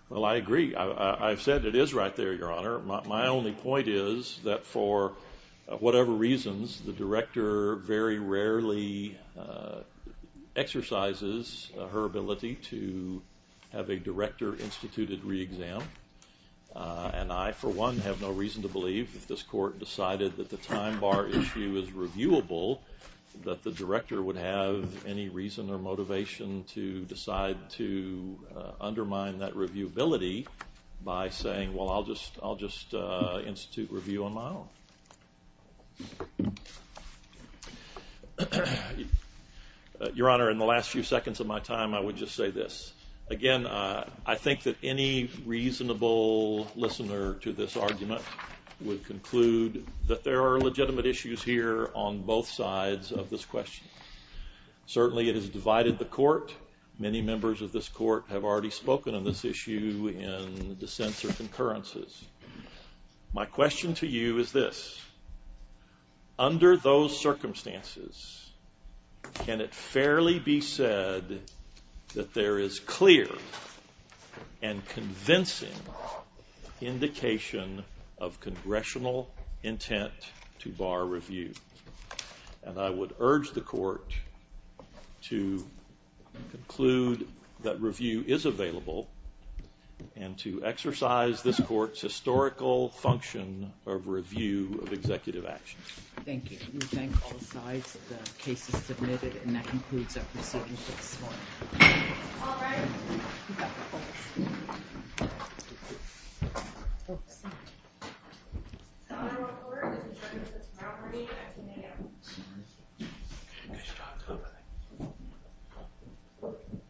Well, I agree. I've said it is right there, Your Honor. My only point is that for whatever reasons, the director very rarely exercises her ability to have a director instituted re-exam. And I, for one, have no reason to believe that this court decided that the time bar issue is reviewable, that the director would have any reason or motivation to decide to undermine that reviewability by saying, well, I'll just institute review on my own. Your Honor, in the last few seconds of my time, I would just say this. Again, I think that any reasonable listener to this argument would conclude that there are legitimate issues here on both sides of this question. Certainly it has divided the court. Many members of this court have already spoken on this issue in the sense of concurrences. My question to you is this. Under those circumstances, can it fairly be said that there is clear and convincing indication of congressional intent to bar review? And I would urge the court to conclude that review is available and to exercise this court's historical function of review of executive actions. Thank you. Thank you.